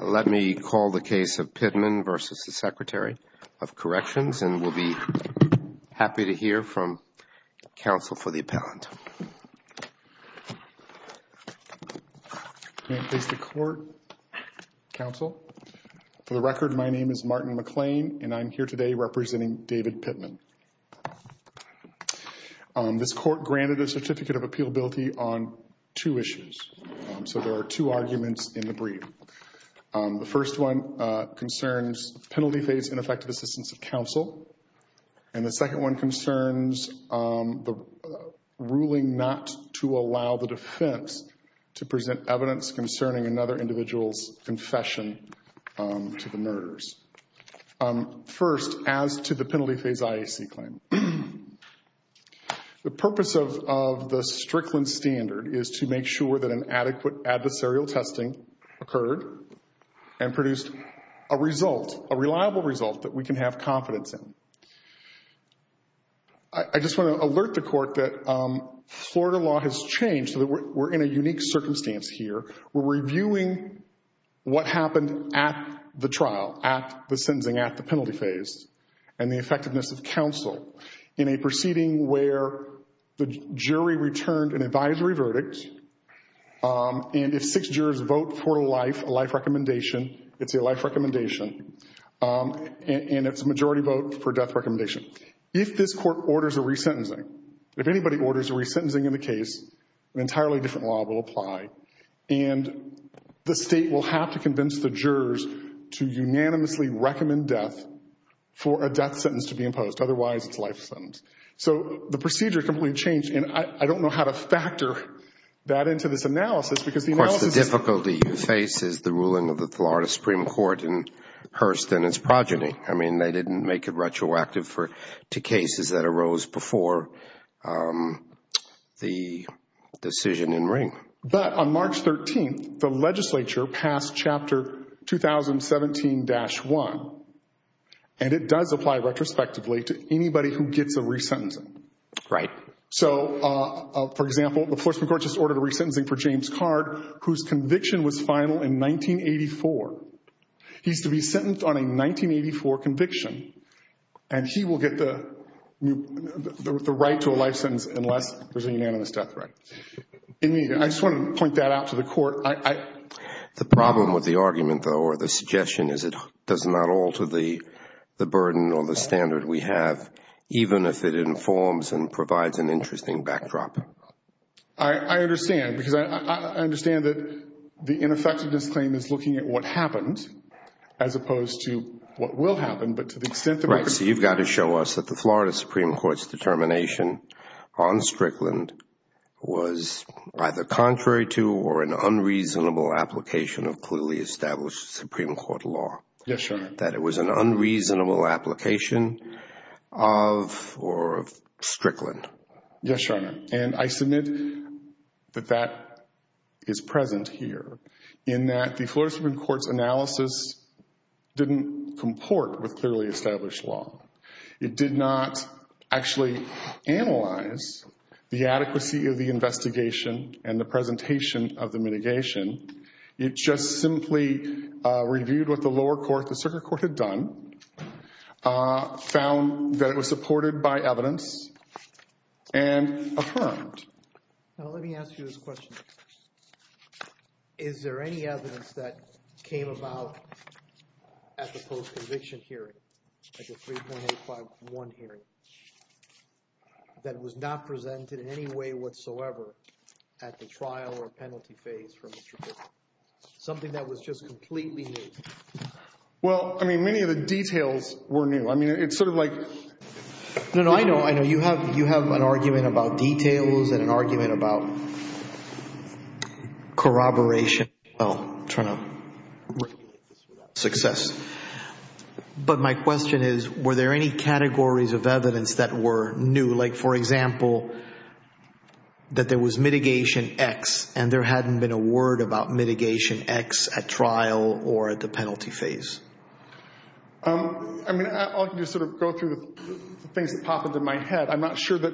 Let me call the case of Pittman v. Secretary of Corrections, and we'll be happy to hear from counsel for the appellant. Thank you, court, counsel. For the record, my name is Martin McClain, and I'm here today representing David Pittman. This court granted a certificate of appealability on two issues, so there are two arguments in the brief. The first one concerns penalty phase ineffective assistance of counsel, and the second one concerns the ruling not to allow the defense to present evidence concerning another individual's confession to the murders. First, as to the penalty phase IAC claim, the purpose of the Strickland standard is to make sure that an adequate adversarial testing occurred and produced a reliable result that we can have confidence in. I just want to alert the court that Florida law has changed. We're in a unique circumstance here. We're reviewing what happened at the trial, at the sentencing, at the penalty phase, and the effectiveness of counsel in a proceeding where the jury returned an advisory verdict, and if six jurors vote for life, a life recommendation, it's a life recommendation, and it's a majority vote for death recommendation. If this court orders a resentencing, if anybody orders a resentencing in the case, an entirely different law will apply, and the state will have to convince the jurors to unanimously recommend death for a death sentence to be imposed. Otherwise, it's a life sentence. The procedure simply changed, and I don't know how to factor that into this analysis. Of course, the difficulty you face is the ruling of the Florida Supreme Court in Hearst and its progeny. They didn't make it retroactive to cases that arose before the decision in Ring. But on March 13th, the legislature passed Chapter 2017-1, and it does apply retrospectively to anybody who gets a resentencing. Right. So, for example, the Florida Supreme Court just ordered a resentencing for James Card, whose conviction was final in 1984. He used to be sentenced on a 1984 conviction, and he will get the right to a life sentence unless there's a unanimous death threat. I just want to point that out to the court. The problem with the argument, though, or the suggestion, is it does not alter the burden or the standard we have, even if it informs and provides an interesting backdrop. I understand, because I understand that the ineffectiveness claim is looking at what happens as opposed to what will happen, but to the extent that… You've got to show us that the Florida Supreme Court's determination on Strickland was either contrary to or an unreasonable application of clearly established Supreme Court law. Yes, Your Honor. That it was an unreasonable application of or of Strickland. Yes, Your Honor. And I submit that that is present here, in that the Florida Supreme Court's analysis didn't comport with clearly established law. It did not actually analyze the adequacy of the investigation and the presentation of the mitigation. It just simply reviewed what the lower court, the Supreme Court, had done, found that it was supported by evidence, and affirmed. Now, let me ask you this question. Is there any evidence that came about at the post-conviction hearing, at the 3.851 hearing, that was not presented in any way whatsoever at the trial or penalty phase for Mr. Bishop? Something that was just completely new. Well, I mean, many of the details were new. I mean, it's sort of like… No, no, I know, I know. You have an argument about details and an argument about corroboration. Well, I'm trying to… Success. But my question is, were there any categories of evidence that were new? Like, for example, that there was mitigation X and there hadn't been a word about mitigation X at trial or at the penalty phase. I mean, I'll just sort of go through the things that pop into my head. I'm not sure that,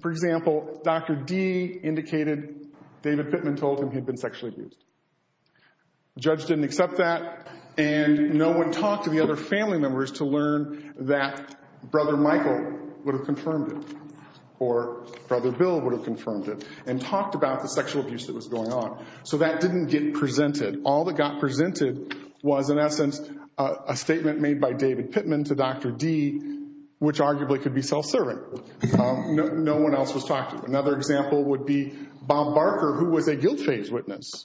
for example, Dr. D indicated David Pittman told him he'd been sexually abused. The judge didn't accept that, and no one talked to the other family members to learn that Brother Michael would have confirmed it, or Brother Bill would have confirmed it, and talked about the sexual abuse that was going on. So that didn't get presented. All that got presented was, in essence, a statement made by David Pittman to Dr. D, which arguably could be self-serving. No one else was talking. Another example would be Bob Barker, who was a guilt phase witness.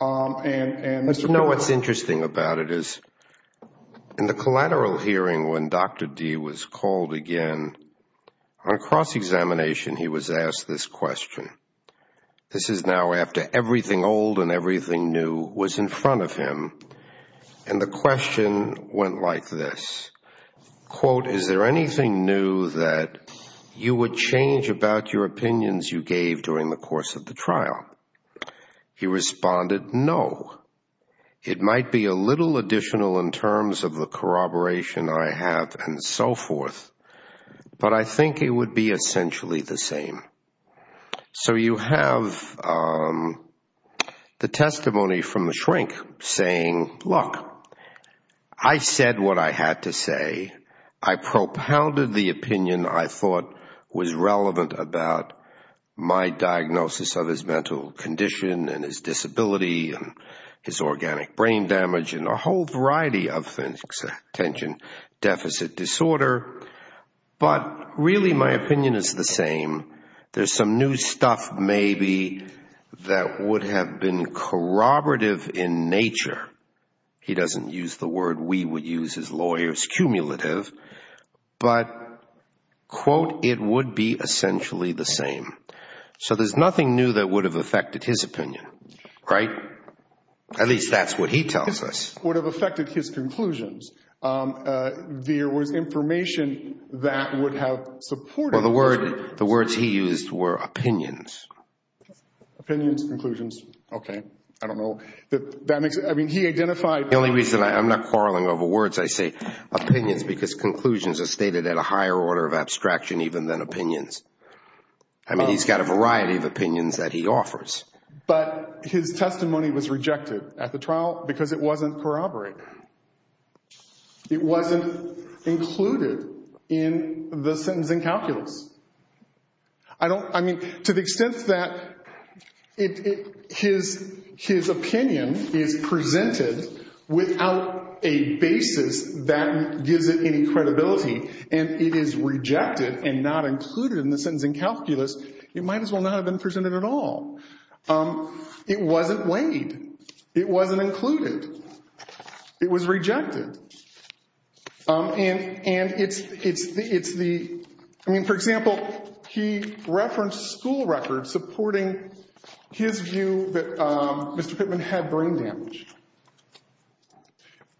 You know what's interesting about it is, in the collateral hearing when Dr. D was called again, on cross-examination he was asked this question. This is now after everything old and everything new was in front of him, and the question went like this. Quote, is there anything new that you would change about your opinions you gave during the course of the trial? He responded, no. It might be a little additional in terms of the corroboration I have and so forth, but I think it would be essentially the same. So you have the testimony from the shrink saying, look, I said what I had to say. I propounded the opinion I thought was relevant about my diagnosis of his mental condition and his disability and his organic brain damage and a whole variety of things, attention deficit disorder. But really my opinion is the same. There's some new stuff maybe that would have been corroborative in nature. He doesn't use the word we would use as lawyers, cumulative. But quote, it would be essentially the same. So there's nothing new that would have affected his opinion, right? At least that's what he tells us. What would have affected his conclusions? There was information that would have supported him. Well, the words he used were opinions. Opinions, conclusions. Okay. I don't know. I mean, he identified. The only reason I'm not quarreling over words, I say opinions, because conclusions are stated at a higher order of abstraction even than opinions. I mean, he's got a variety of opinions that he offers. But his testimony was rejected at the trial because it wasn't corroborative. It wasn't included in the sentencing calculus. I mean, to the extent that his opinion is presented without a basis that gives it any credibility and it is rejected and not included in the sentencing calculus, it might as well not have been presented at all. It wasn't weighed. It wasn't included. It was rejected. I mean, for example, he referenced school records supporting his view that Mr. Pittman had brain damage.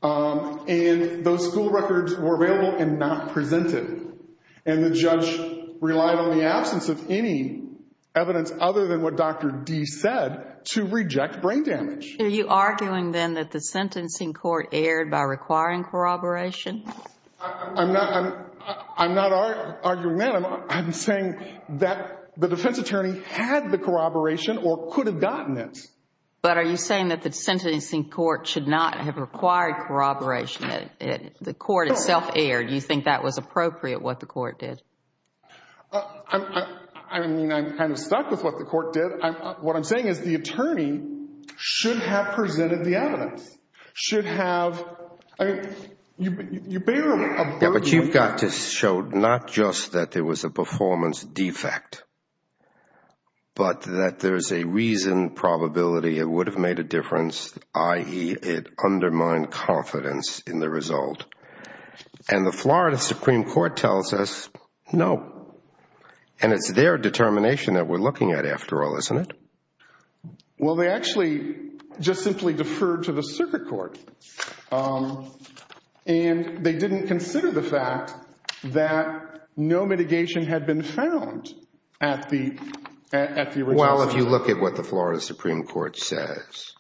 And those school records were available and not presented. And the judge relied on the absence of any evidence other than what Dr. D said to reject brain damage. Are you arguing then that the sentencing court erred by requiring corroboration? I'm not arguing that. I'm saying that the defense attorney had the corroboration or could have gotten it. But are you saying that the sentencing court should not have required corroboration? The court itself erred. You think that was appropriate what the court did? I mean, I'm kind of stuck with what the court did. What I'm saying is the attorney should have presented the evidence, should have. I mean, you barely have. Yeah, but you've got to show not just that there was a performance defect, but that there's a reason, probability it would have made a difference, i.e., it undermined confidence in the result. And the Florida Supreme Court tells us no. And it's their determination that we're looking at after all, isn't it? Well, they actually just simply deferred to the circuit court. And they didn't consider the fact that no mitigation had been found at the original time. Well, if you look at what the Florida Supreme Court says,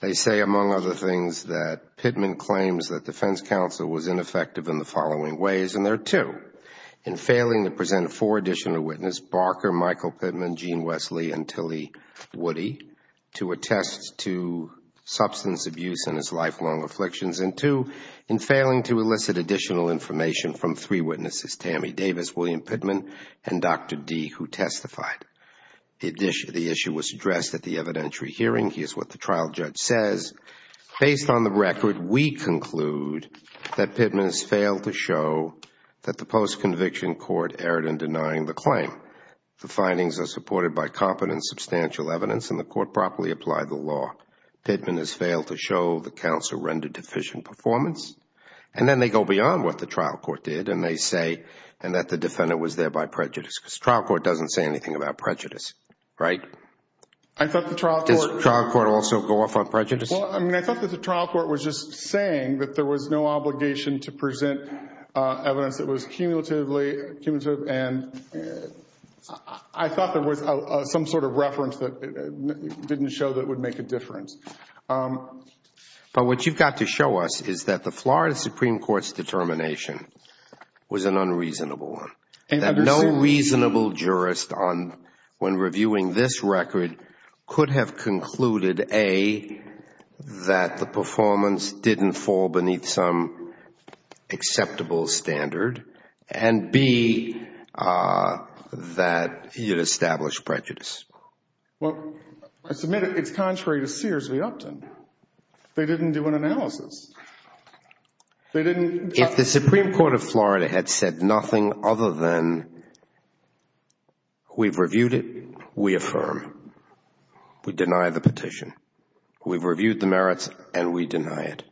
they say among other things that Pittman claims that defense counsel was ineffective in the following ways, and there are two, in failing to present four additional witnesses, Barker, Michael Pittman, Gene Wesley, and Tilly Woody, to attest to substance abuse and its lifelong afflictions, and two, in failing to elicit additional information from three witnesses, Tammy Davis, William Pittman, and Dr. D., who testified. The issue was addressed at the evidentiary hearing. Here's what the trial judge says. Based on the record, we conclude that Pittman has failed to show that the post-conviction court erred in denying the claim. The findings are supported by confident substantial evidence, and the court properly applied the law. Pittman has failed to show the counsel rendered deficient performance. And then they go beyond what the trial court did, and they say that the defendant was there by prejudice. The trial court doesn't say anything about prejudice, right? Did the trial court also go off on prejudice? Well, I mean, I thought that the trial court was just saying that there was no obligation to present evidence that was cumulative, and I thought there was some sort of reference that didn't show that it would make a difference. But what you've got to show us is that the Florida Supreme Court's determination was an unreasonable one, that no reasonable jurist, when reviewing this record, could have concluded, A, that the performance didn't fall beneath some acceptable standard, and, B, that you established prejudice. Well, I submit it's contrary to Sears. They didn't do an analysis. If the Supreme Court of Florida had said nothing other than we've reviewed it, we affirm. We deny the petition. We've reviewed the merits, and we deny it.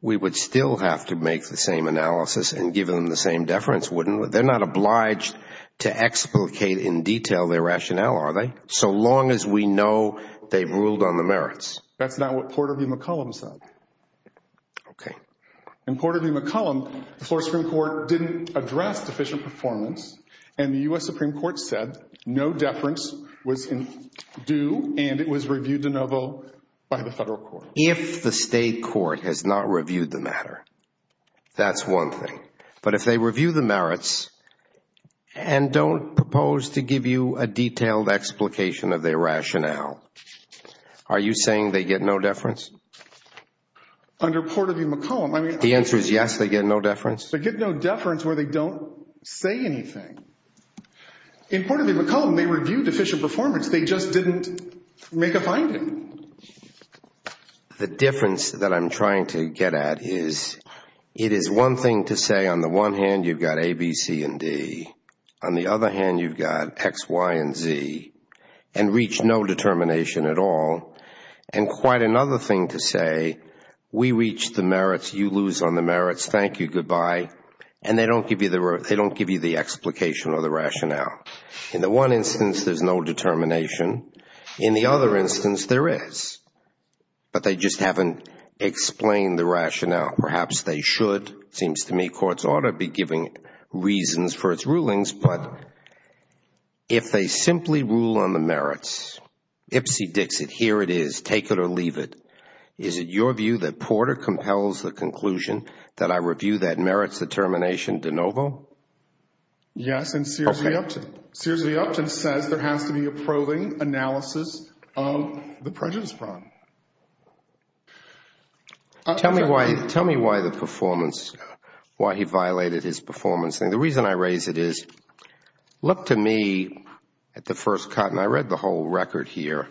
We would still have to make the same analysis and give them the same deference, wouldn't we? They're not obliged to explicate in detail their rationale, are they? That's not what Porter v. McCollum said. Okay. In Porter v. McCollum, the Florida Supreme Court didn't address sufficient performance, and the U.S. Supreme Court said no deference was due, and it was reviewed de novo by the federal court. If the state court has not reviewed the matter, that's one thing. But if they review the merits and don't propose to give you a detailed explication of their rationale, are you saying they get no deference? Under Porter v. McCollum. The answer is yes, they get no deference. They get no deference where they don't say anything. In Porter v. McCollum, they reviewed sufficient performance. They just didn't make a finding. The difference that I'm trying to get at is it is one thing to say on the one hand you've got A, B, C, and D. On the other hand, you've got X, Y, and Z, and reach no determination at all. And quite another thing to say, we reached the merits. You lose on the merits. Thank you. Goodbye. And they don't give you the explanation or the rationale. In the one instance, there's no determination. In the other instance, there is. But they just haven't explained the rationale. Perhaps they should. It seems to me courts ought to be giving reasons for its rulings, but if they simply rule on the merits, ipsy-dixy, here it is, take it or leave it, is it your view that Porter compels the conclusion that I review that merits determination de novo? Yes, and Sears-Leoptin says there has to be a probing analysis of the prejudice problem. Tell me why the performance, why he violated his performance. And the reason I raise it is, look to me at the first copy. I read the whole record here.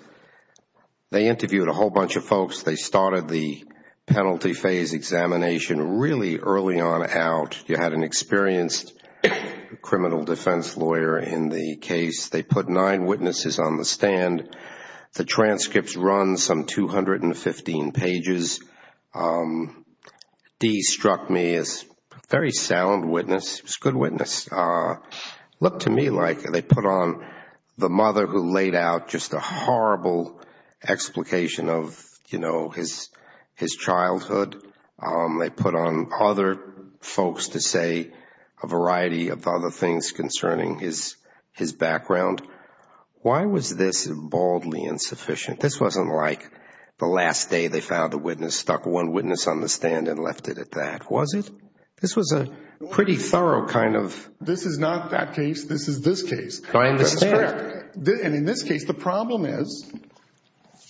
They interviewed a whole bunch of folks. They started the penalty phase examination really early on out. You had an experienced criminal defense lawyer in the case. They put nine witnesses on the stand. The transcripts run some 215 pages. Dee struck me as a very sound witness, a good witness. Looked to me like they put on the mother who laid out just a horrible explication of his childhood. They put on other folks to say a variety of other things concerning his background. Why was this baldly insufficient? This wasn't like the last day they found the witness stuck one witness on the stand and left it at that, was it? This was a pretty thorough kind of. This is not that case, this is this case. I understand. And in this case, the problem is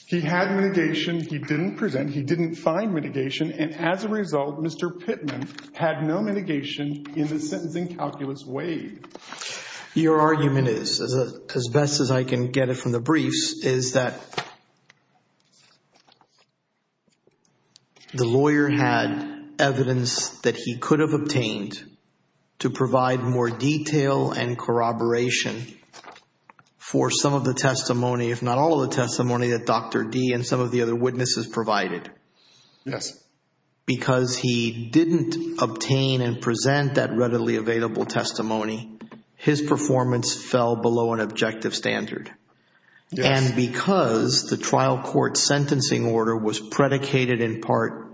he had mitigation, he didn't present, he didn't find mitigation, and as a result, Mr. Pittman had no mitigation in the sentencing calculus way. Your argument is, as best as I can get it from the briefs, is that the lawyer had evidence that he could have obtained to provide more detail and corroboration for some of the testimony, if not all of the testimony, that Dr. Dee and some of the other witnesses provided. Yes. Because he didn't obtain and present that readily available testimony, his performance fell below an objective standard. And because the trial court sentencing order was predicated in part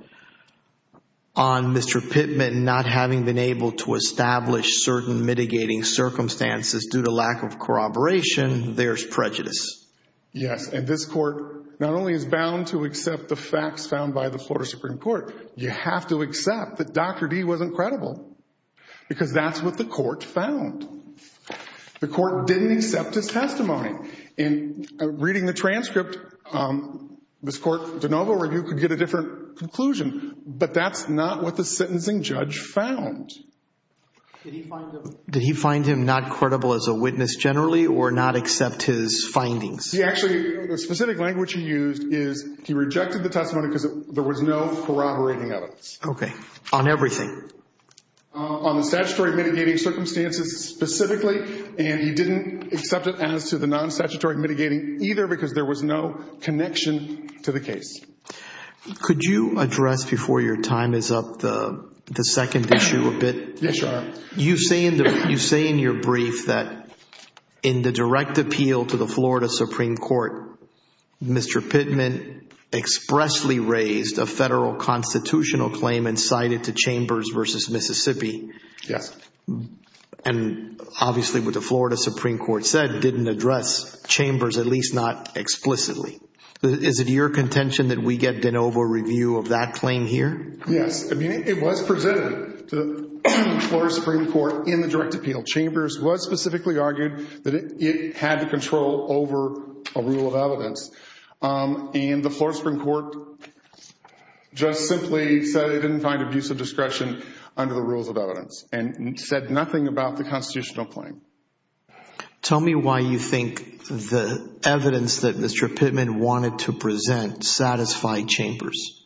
on Mr. Pittman not having been able to establish certain mitigating circumstances due to lack of corroboration, there's prejudice. Yes. And this court not only is bound to accept the facts found by the Florida Supreme Court, you have to accept that Dr. Dee wasn't credible, because that's what the court found. The court didn't accept his testimony. In reading the transcript, the Novel Review could get a different conclusion, but that's not what the sentencing judge found. Did he find him not credible as a witness generally, or not accept his findings? Actually, the specific language he used is he rejected the testimony because there was no corroborating evidence. Okay. On everything? On the statutory mitigating circumstances specifically, and he didn't accept evidence to the non-statutory mitigating either, because there was no connection to the case. Could you address before your time is up the second issue a bit? Yes, Your Honor. You say in your brief that in the direct appeal to the Florida Supreme Court, Mr. Pittman expressly raised a federal constitutional claim and cited the Chambers versus Mississippi. Yes. And obviously what the Florida Supreme Court said didn't address Chambers, at least not explicitly. Is it your contention that we get the Novel Review of that claim here? Yes. It was presented to the Florida Supreme Court in the direct appeal. Chambers was specifically arguing that it had control over a rule of evidence, and the Florida Supreme Court just simply said it didn't find abuse of discretion under the rules of evidence, and said nothing about the constitutional claim. Tell me why you think the evidence that Mr. Pittman wanted to present satisfied Chambers.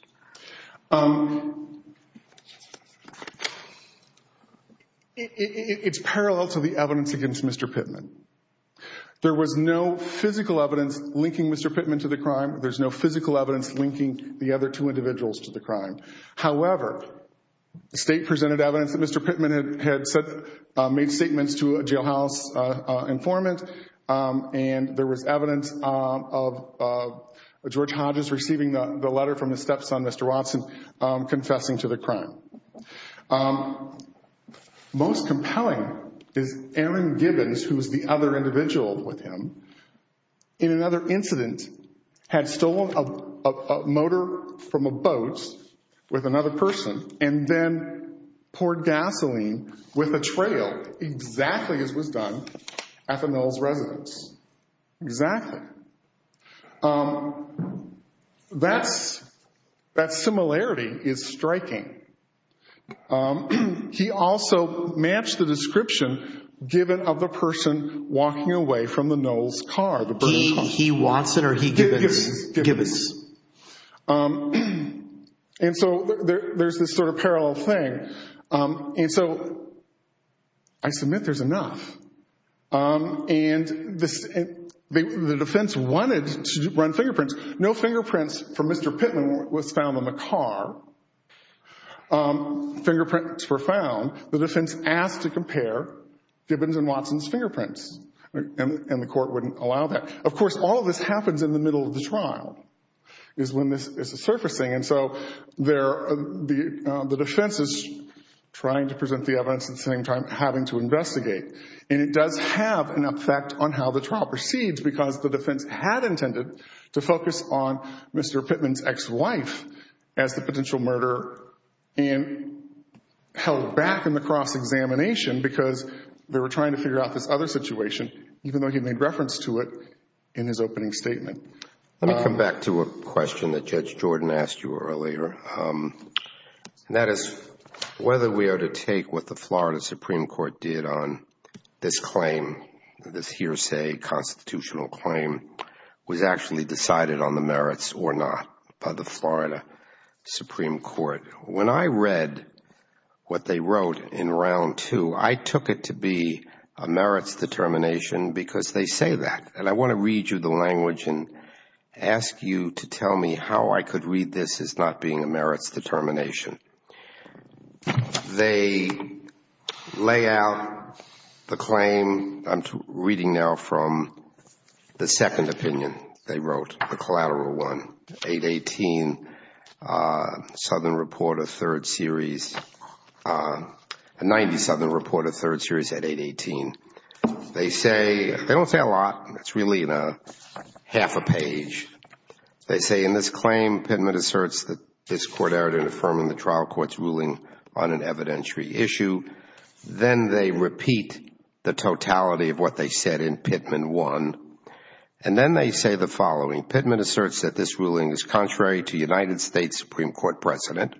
It's parallel to the evidence against Mr. Pittman. There was no physical evidence linking Mr. Pittman to the crime. There's no physical evidence linking the other two individuals to the crime. However, the state presented evidence that Mr. Pittman had made statements to a jailhouse informant, and there was evidence of George Hodges receiving the letter from his stepson, Mr. Watson, confessing to the crime. Most compelling is Aaron Gibbons, who was the other individual with him, in another incident, had stolen a motor from a boat with another person, and then poured gasoline with a trail, exactly as was done at the Knowles residence. Exactly. That similarity is striking. He also matched the description given of the person walking away from the Knowles car. He watched it, or he did it? Gibbons. There's this sort of parallel thing. I submit there's enough. The defense wanted to run fingerprints. No fingerprints from Mr. Pittman was found on the car. Fingerprints were found. The defense asked to compare Gibbons and Watson's fingerprints, and the court wouldn't allow that. Of course, all of this happens in the middle of the trial is when this is surfacing, and so the defense is trying to present the evidence and, at the same time, having to investigate, and it does have an effect on how the trial proceeds because the defense had intended to focus on Mr. Pittman's ex-wife as the potential murderer and held back in the cross-examination because they were trying to figure out this other situation, even though he made reference to it in his opening statement. Let me come back to a question that Judge Jordan asked you earlier, and that is whether we are to take what the Florida Supreme Court did on this claim, this hearsay constitutional claim, was actually decided on the merits or not by the Florida Supreme Court. When I read what they wrote in round two, I took it to be a merits determination because they say that, and I want to read you the language and ask you to tell me how I could read this as not being a merits determination. They lay out the claim. I'm reading now from the second opinion they wrote, the collateral one, 818 Southern Report of Third Series, 90 Southern Report of Third Series at 818. They don't say a lot. It's really half a page. They say, in this claim, Pittman asserts that this court erred in affirming the trial court's ruling on an evidentiary issue. Then they repeat the totality of what they said in Pittman one, and then they say the following. Pittman asserts that this ruling is contrary to United States Supreme Court precedent,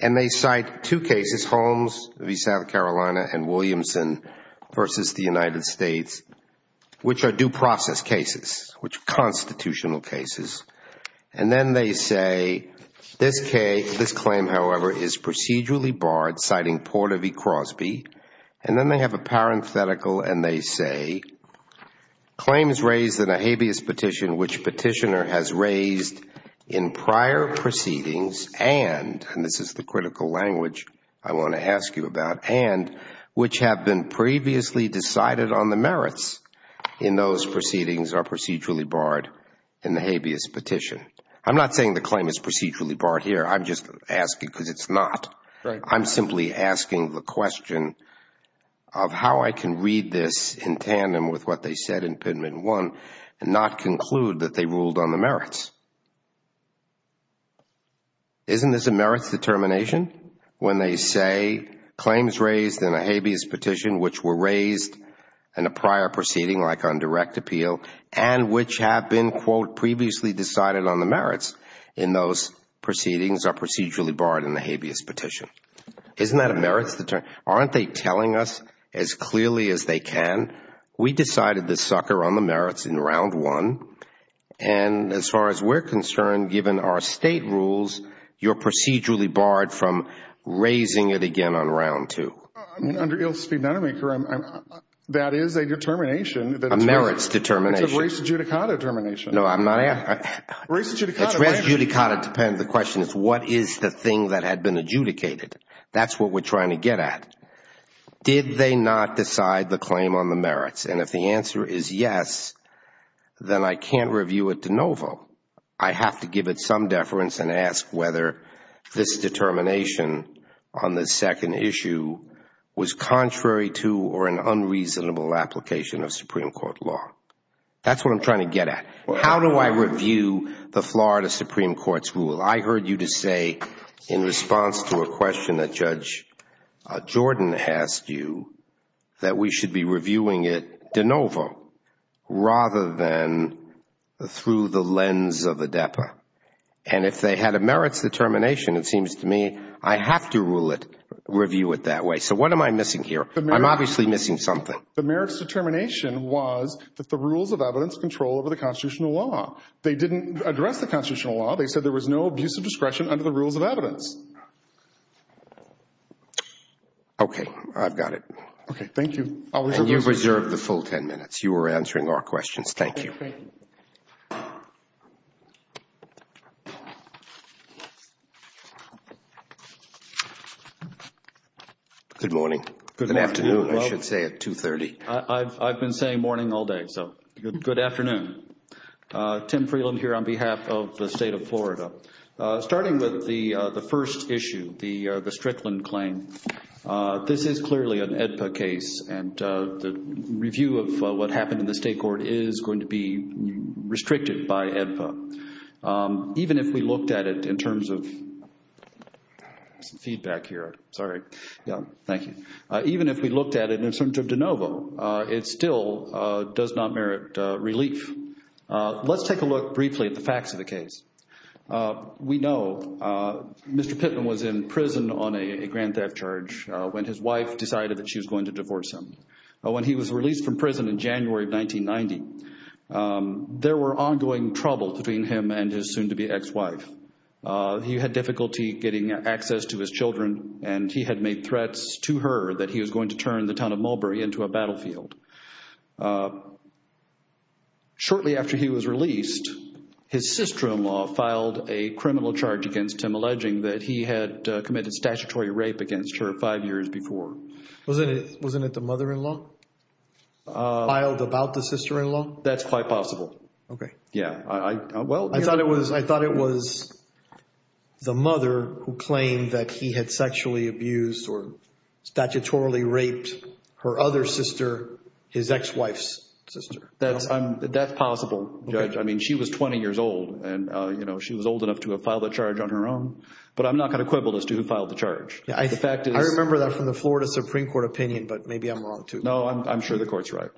and they cite two cases, Holmes v. South Carolina and Williamson versus the United States, which are due process cases, which are constitutional cases. Then they say, this claim, however, is procedurally barred, citing Porter v. Crosby. Then they have a parenthetical and they say, claims raised in a habeas petition, which petitioner has raised in prior proceedings and, and this is the critical language I want to ask you about, and which have been previously decided on the merits in those proceedings are procedurally barred in the habeas petition. I'm not saying the claim is procedurally barred here. I'm just asking because it's not. I'm simply asking the question of how I can read this in tandem with what they said in Pittman one and not conclude that they ruled on the merits. Isn't this a merit determination when they say claims raised in a habeas petition, which were raised in a prior proceeding like on direct appeal, and which have been, quote, previously decided on the merits in those proceedings are procedurally barred in the habeas petition? Isn't that a merit determination? Aren't they telling us as clearly as they can, we decided this sucker on the merits in round one, and as far as we're concerned, given our state rules, you're procedurally barred from raising it again on round two? It'll speak to me, sir. That is a determination. A merits determination. It's a race adjudicata determination. No, I'm not asking. Race adjudicata. The question is what is the thing that had been adjudicated? That's what we're trying to get at. Did they not decide the claim on the merits? And if the answer is yes, then I can't review it de novo. I have to give it some deference and ask whether this determination on the second issue was contrary to or an unreasonable application of Supreme Court law. That's what I'm trying to get at. How do I review the Florida Supreme Court's rule? I heard you say in response to a question that Judge Jordan asked you that we should be reviewing it de novo rather than through the lens of the DEPA. And if they had a merits determination, it seems to me I have to review it that way. So what am I missing here? I'm obviously missing something. The merits determination was that the rules of evidence control over the constitutional law. They didn't address the constitutional law. They said there was no abuse of discretion under the rules of evidence. Okay, I've got it. Okay, thank you. And you've reserved the full ten minutes. You were answering our questions. Thank you. Good morning. Good afternoon. I should say it's 2.30. I've been saying morning all day, so good afternoon. Tim Freeland here on behalf of the state of Florida. Starting with the first issue, the Strickland claim, this is clearly an EDFA case. And the review of what happened in the state court is going to be restricted by EDFA. Even if we looked at it in terms of feedback here, sorry. Thank you. Even if we looked at it in terms of de novo, it still does not merit relief. Let's take a look briefly at the facts of the case. We know Mr. Pittman was in prison on a grand theft charge when his wife decided that she was going to divorce him. When he was released from prison in January of 1990, there were ongoing troubles between him and his soon-to-be ex-wife. He had difficulty getting access to his children, and he had made threats to her that he was going to turn the town of Mulberry into a battlefield. Shortly after he was released, his sister-in-law filed a criminal charge against him, alleging that he had committed statutory rape against her five years before. Wasn't it the mother-in-law filed about the sister-in-law? That's quite possible. Okay. Yeah. I thought it was the mother who claimed that he had sexually abused or statutorily raped her other sister, his ex-wife's sister. That's possible, Judge. I mean, she was 20 years old, and she was old enough to have filed a charge on her own. But I'm not going to quibble as to who filed the charge. I remember that from the Florida Supreme Court opinion, but maybe I'm wrong, too. No, I'm sure the court's right.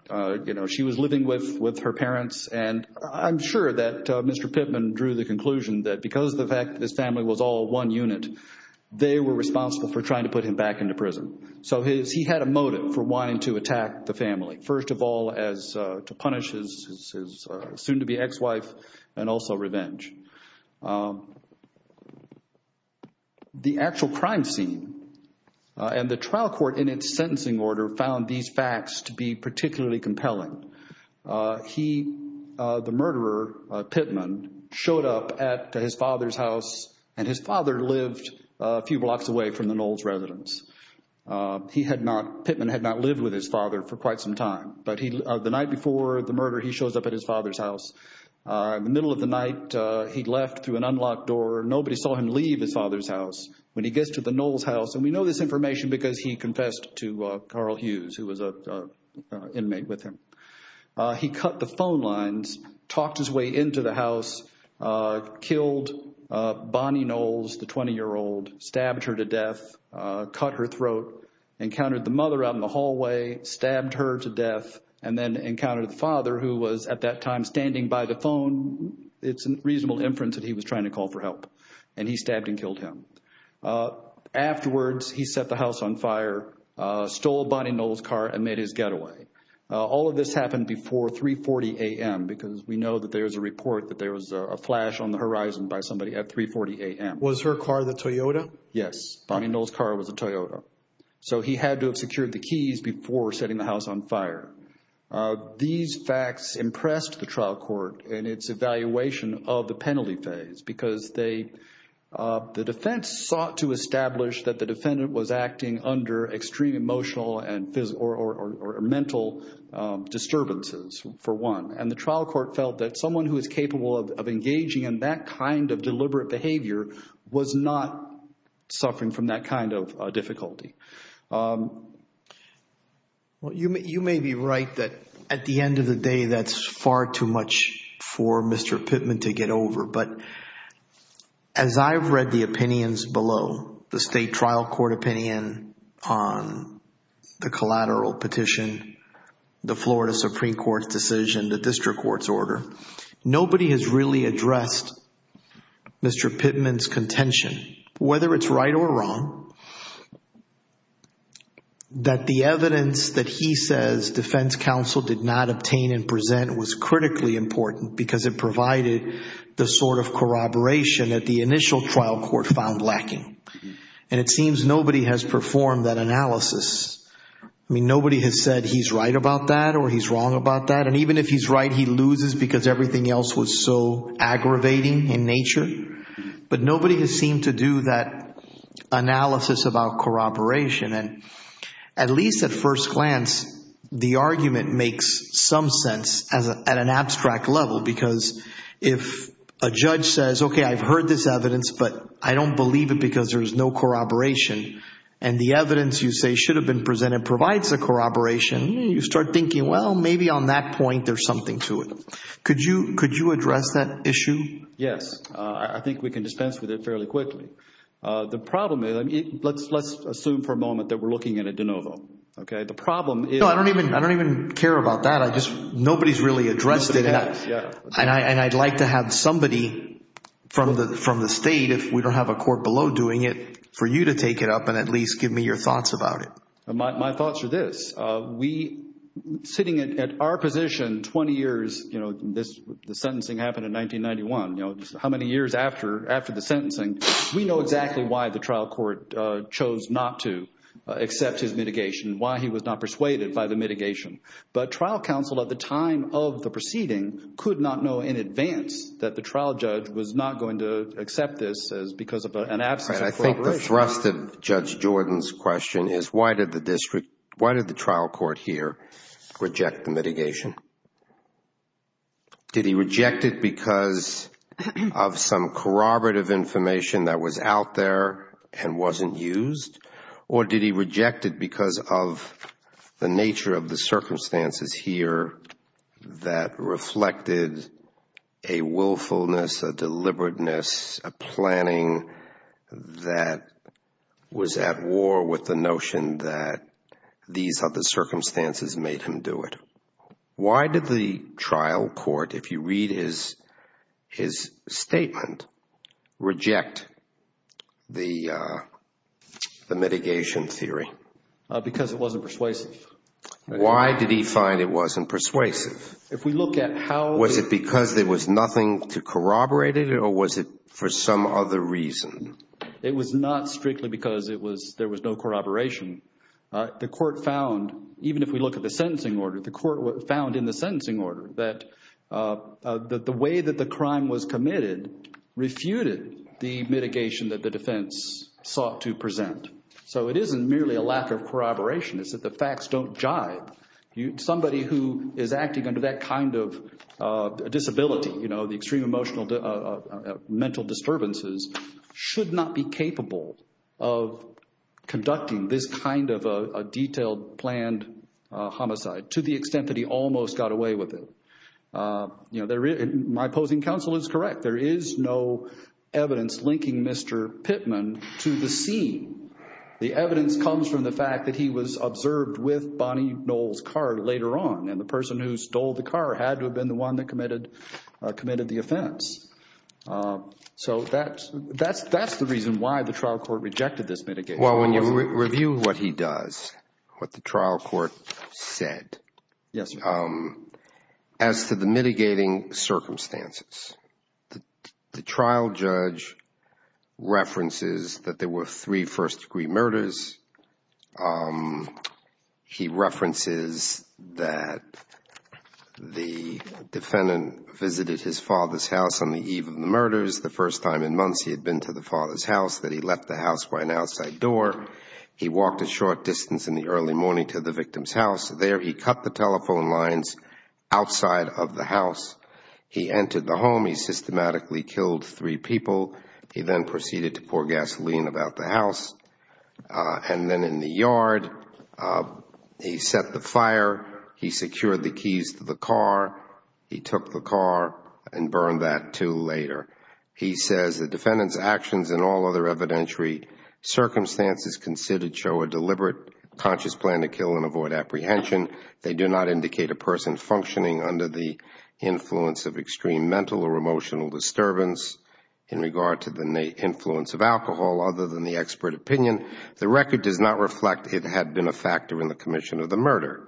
You know, she was living with her parents, and I'm sure that Mr. Pittman drew the conclusion that because the fact that his family was all one unit, they were responsible for trying to put him back into prison. So he had a motive for wanting to attack the family. First of all, to punish his soon-to-be ex-wife, and also revenge. The actual crime scene and the trial court in its sentencing order found these facts to be particularly compelling. He, the murderer, Pittman, showed up at his father's house, and his father lived a few blocks away from the Knowles residence. Pittman had not lived with his father for quite some time. But the night before the murder, he shows up at his father's house. In the middle of the night, he left through an unlocked door. Nobody saw him leave his father's house. When he gets to the Knowles house, and we know this information because he confessed to Carl Hughes, who was an inmate with him, he cut the phone lines, talked his way into the house, killed Bonnie Knowles, the 20-year-old, stabbed her to death, cut her throat, encountered the mother out in the hallway, stabbed her to death, and then encountered the father, who was at that time standing by the phone. It's a reasonable inference that he was trying to call for help. And he stabbed and killed him. Afterwards, he set the house on fire, stole Bonnie Knowles' car, and made his getaway. All of this happened before 3.40 a.m., because we know that there's a report that there was a flash on the horizon by somebody at 3.40 a.m. Was her car the Toyota? Yes, Bonnie Knowles' car was the Toyota. So he had to have secured the keys before setting the house on fire. These facts impressed the trial court in its evaluation of the penalty phase, because the defense sought to establish that the defendant was acting under extreme emotional or mental disturbances, for one. And the trial court felt that someone who was capable of engaging in that kind of deliberate behavior was not suffering from that kind of difficulty. You may be right that, at the end of the day, that's far too much for Mr. Pittman to get over. But as I've read the opinions below, the state trial court opinion on the collateral petition, the Florida Supreme Court decision, the district court's order, nobody has really addressed Mr. Pittman's contention. Whether it's right or wrong, that the evidence that he says defense counsel did not obtain and present was critically important, because it provided the sort of corroboration that the initial trial court found lacking. And it seems nobody has performed that analysis. I mean, nobody has said he's right about that or he's wrong about that. And even if he's right, he loses because everything else was so aggravating in nature. But nobody has seemed to do that analysis about corroboration. And at least at first glance, the argument makes some sense at an abstract level, because if a judge says, okay, I've heard this evidence, but I don't believe it because there's no corroboration, and the evidence you say should have been presented provides the corroboration, you start thinking, well, maybe on that point there's something to it. Could you address that issue? Yes. I think we can dispense with it fairly quickly. The problem is, let's assume for a moment that we're looking at a de novo. No, I don't even care about that. Nobody has really addressed it yet. And I'd like to have somebody from the state, if we don't have a court below doing it, for you to take it up and at least give me your thoughts about it. My thoughts are this. Sitting at our position, 20 years, the sentencing happened in 1991. How many years after the sentencing? We know exactly why the trial court chose not to accept his mitigation, why he was not persuaded by the mitigation. But trial counsel at the time of the proceeding could not know in advance that the trial judge was not going to accept this because of an absence of corroboration. I think the thrust of Judge Jordan's question is, why did the trial court here reject the mitigation? Did he reject it because of some corroborative information that was out there and wasn't used? Or did he reject it because of the nature of the circumstances here that reflected a willfulness, a deliberateness, a planning that was at war with the notion that these other circumstances made him do it? Why did the trial court, if you read his statement, reject the mitigation theory? Because it wasn't persuasive. Why did he find it wasn't persuasive? Was it because there was nothing to corroborate it or was it for some other reason? It was not strictly because there was no corroboration. The court found, even if we look at the sentencing order, the court found in the sentencing order that the way that the crime was committed refuted the mitigation that the defense sought to present. It isn't merely a lack of corroboration. It's that the facts don't jive. Somebody who is acting under that kind of disability, the extreme emotional, mental disturbances, should not be capable of conducting this kind of a detailed planned homicide to the extent that he almost got away with it. My opposing counsel is correct. There is no evidence linking Mr. Pittman to the scene. The evidence comes from the fact that he was observed with Bonnie Knoll's car later on, and the person who stole the car had to have been the one that committed the offense. That's the reason why the trial court rejected this mitigation. When you review what he does, what the trial court said, as to the mitigating circumstances, the trial judge references that there were three first-degree murders. He references that the defendant visited his father's house on the eve of the murders. The first time in months he had been to the father's house, that he left the house by an outside door. He walked a short distance in the early morning to the victim's house. There he cut the telephone lines outside of the house. He entered the home. He systematically killed three people. He then proceeded to pour gasoline about the house. Then in the yard, he set the fire. He secured the keys to the car. He took the car and burned that too later. He says the defendant's actions and all other evidentiary circumstances considered show a deliberate conscious plan to kill and avoid apprehension. They do not indicate a person functioning under the influence of extreme mental or emotional disturbance in regard to the influence of alcohol other than the expert opinion. The record does not reflect it had been a factor in the commission of the murder.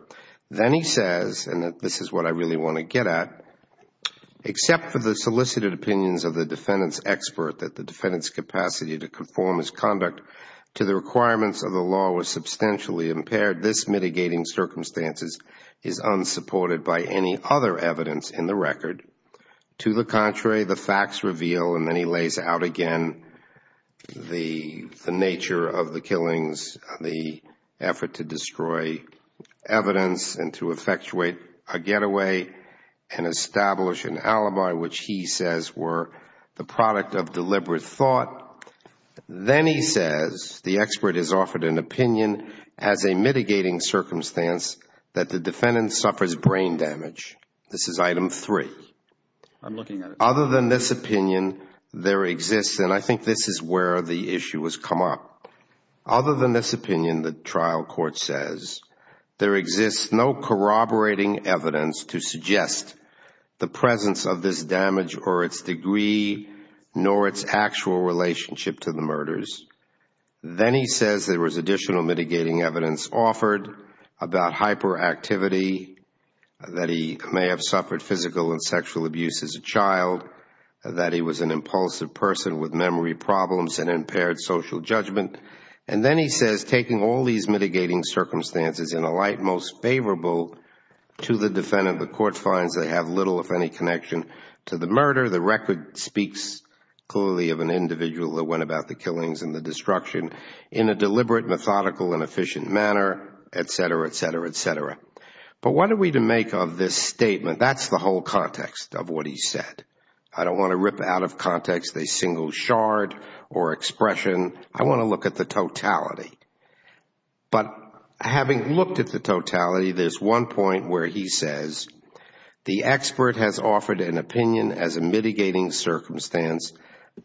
Then he says, and this is what I really want to get at, except for the solicited opinions of the defendant's expert that the defendant's capacity to conform his conduct to the requirements of the law was substantially impaired, this mitigating circumstances is unsupported by any other evidence in the record. To the contrary, the facts reveal and then he lays out again the nature of the killings, the effort to destroy evidence and to effectuate a getaway and establish an alibi which he says were the product of deliberate thought. Then he says the expert has offered an opinion as a mitigating circumstance that the defendant suffers brain damage. This is item three. Other than this opinion, there exists, and I think this is where the issue has come up. Other than this opinion, the trial court says, there exists no corroborating evidence to suggest the presence of this damage or its degree nor its actual relationship to the murders. Then he says there was additional mitigating evidence offered about hyperactivity, that he may have suffered physical and sexual abuse as a child, that he was an impulsive person with memory problems and impaired social judgment. Then he says taking all these mitigating circumstances in a light most favorable to the defendant, the court finds they have little if any connection to the murder. The record speaks clearly of an individual that went about the killings and the destruction in a deliberate, methodical, and efficient manner et cetera, et cetera, et cetera. What are we to make of this statement? That's the whole context of what he said. I don't want to rip out of context a single shard or expression. I want to look at the totality. Having looked at the totality, there's one point where he says, the expert has offered an opinion as a mitigating circumstance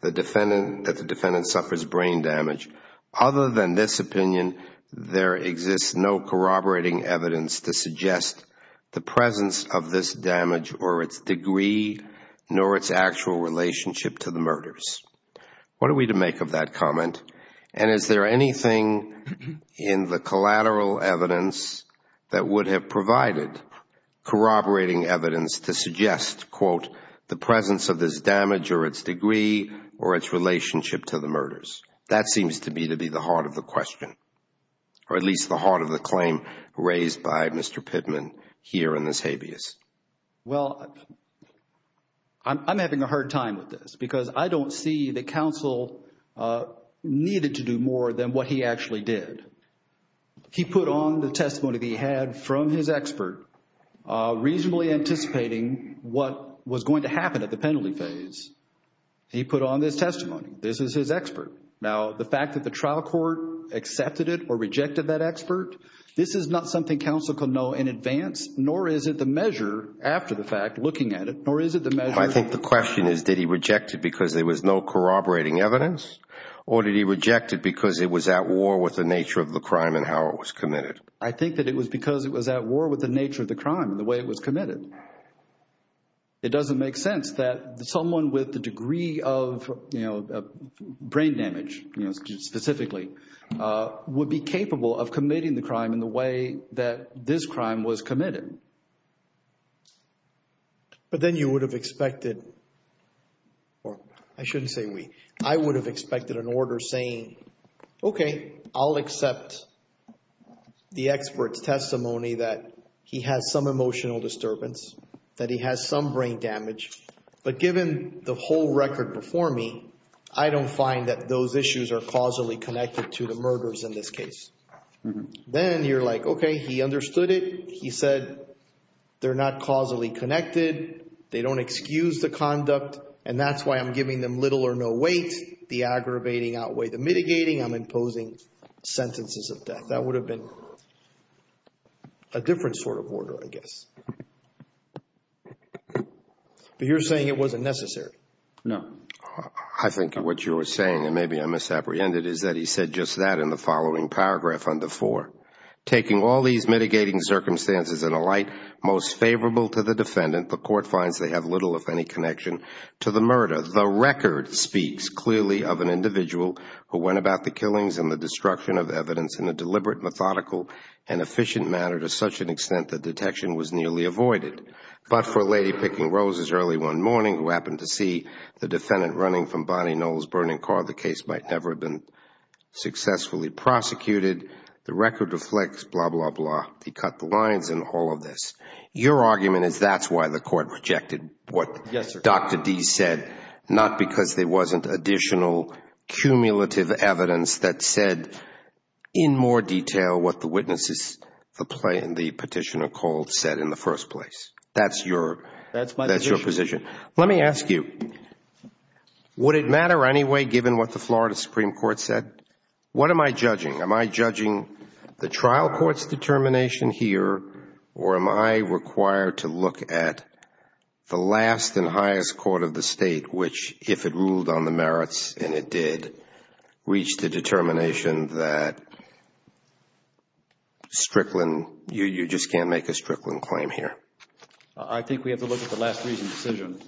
that the defendant suffers brain damage. Other than this opinion, there exists no corroborating evidence to suggest the presence of this damage or its degree, nor its actual relationship to the murders. What are we to make of that comment? Is there anything in the collateral evidence that would have provided corroborating evidence to suggest the presence of this damage or its degree or its relationship to the murders? That seems to be the heart of the question, or at least the heart of the claim raised by Mr. Pittman here in this habeas. Well, I'm having a hard time with this because I don't see the counsel needed to do more than what he actually did. He put on the testimony he had from his expert, reasonably anticipating what was going to happen at the penalty phase. He put on this testimony. This is his expert. Now, the fact that the trial court accepted it or rejected that expert, this is not something counsel can know in advance, nor is it the measure after the fact, looking at it, nor is it the measure- I think the question is, did he reject it because there was no corroborating evidence, or did he reject it because it was at war with the nature of the crime and how it was committed? I think that it was because it was at war with the nature of the crime and the way it was committed. It doesn't make sense that someone with the degree of brain damage, specifically, would be capable of committing the crime in the way that this crime was committed. But then you would have expected- I shouldn't say we. I would have expected an order saying, okay, I'll accept the expert's testimony that he had some emotional disturbance that he had some brain damage, but given the whole record before me, I don't find that those issues are causally connected to the murders in this case. Then you're like, okay, he understood it. He said they're not causally connected. They don't excuse the conduct, and that's why I'm giving them little or no weight. The aggravating outweigh the mitigating. I'm imposing sentences of death. That would have been a different sort of order, I guess. You're saying it wasn't necessary. No. I think what you were saying, and maybe I misapprehended, is that he said just that in the following paragraph under four. Taking all these mitigating circumstances in a light most favorable to the defendant, the court finds they have little, if any, connection to the murder. The record speaks clearly of an individual who went about the killings and the destruction of evidence in a deliberate, methodical, and efficient manner to such an extent that detection was nearly avoided. But for Lady Picking Roses early one morning, who happened to see the defendant running from Bonnie Knoll's burning car, the case might never have been successfully prosecuted. The record reflects blah, blah, blah. He cut the lines in all of this. Your argument is that's why the court rejected what Dr. D said, not because there wasn't additional cumulative evidence that said in more detail what the witnesses, the petitioner called, said in the first place. That's your position. Let me ask you, would it matter anyway, given what the Florida Supreme Court said? What am I judging? Am I judging the trial court's determination here, or am I required to look at the last and highest court of the state, which, if it ruled on the merits, and it did, reached a determination that Strickland, you just can't make a Strickland claim here. I think we have to look at the last reasoned decision,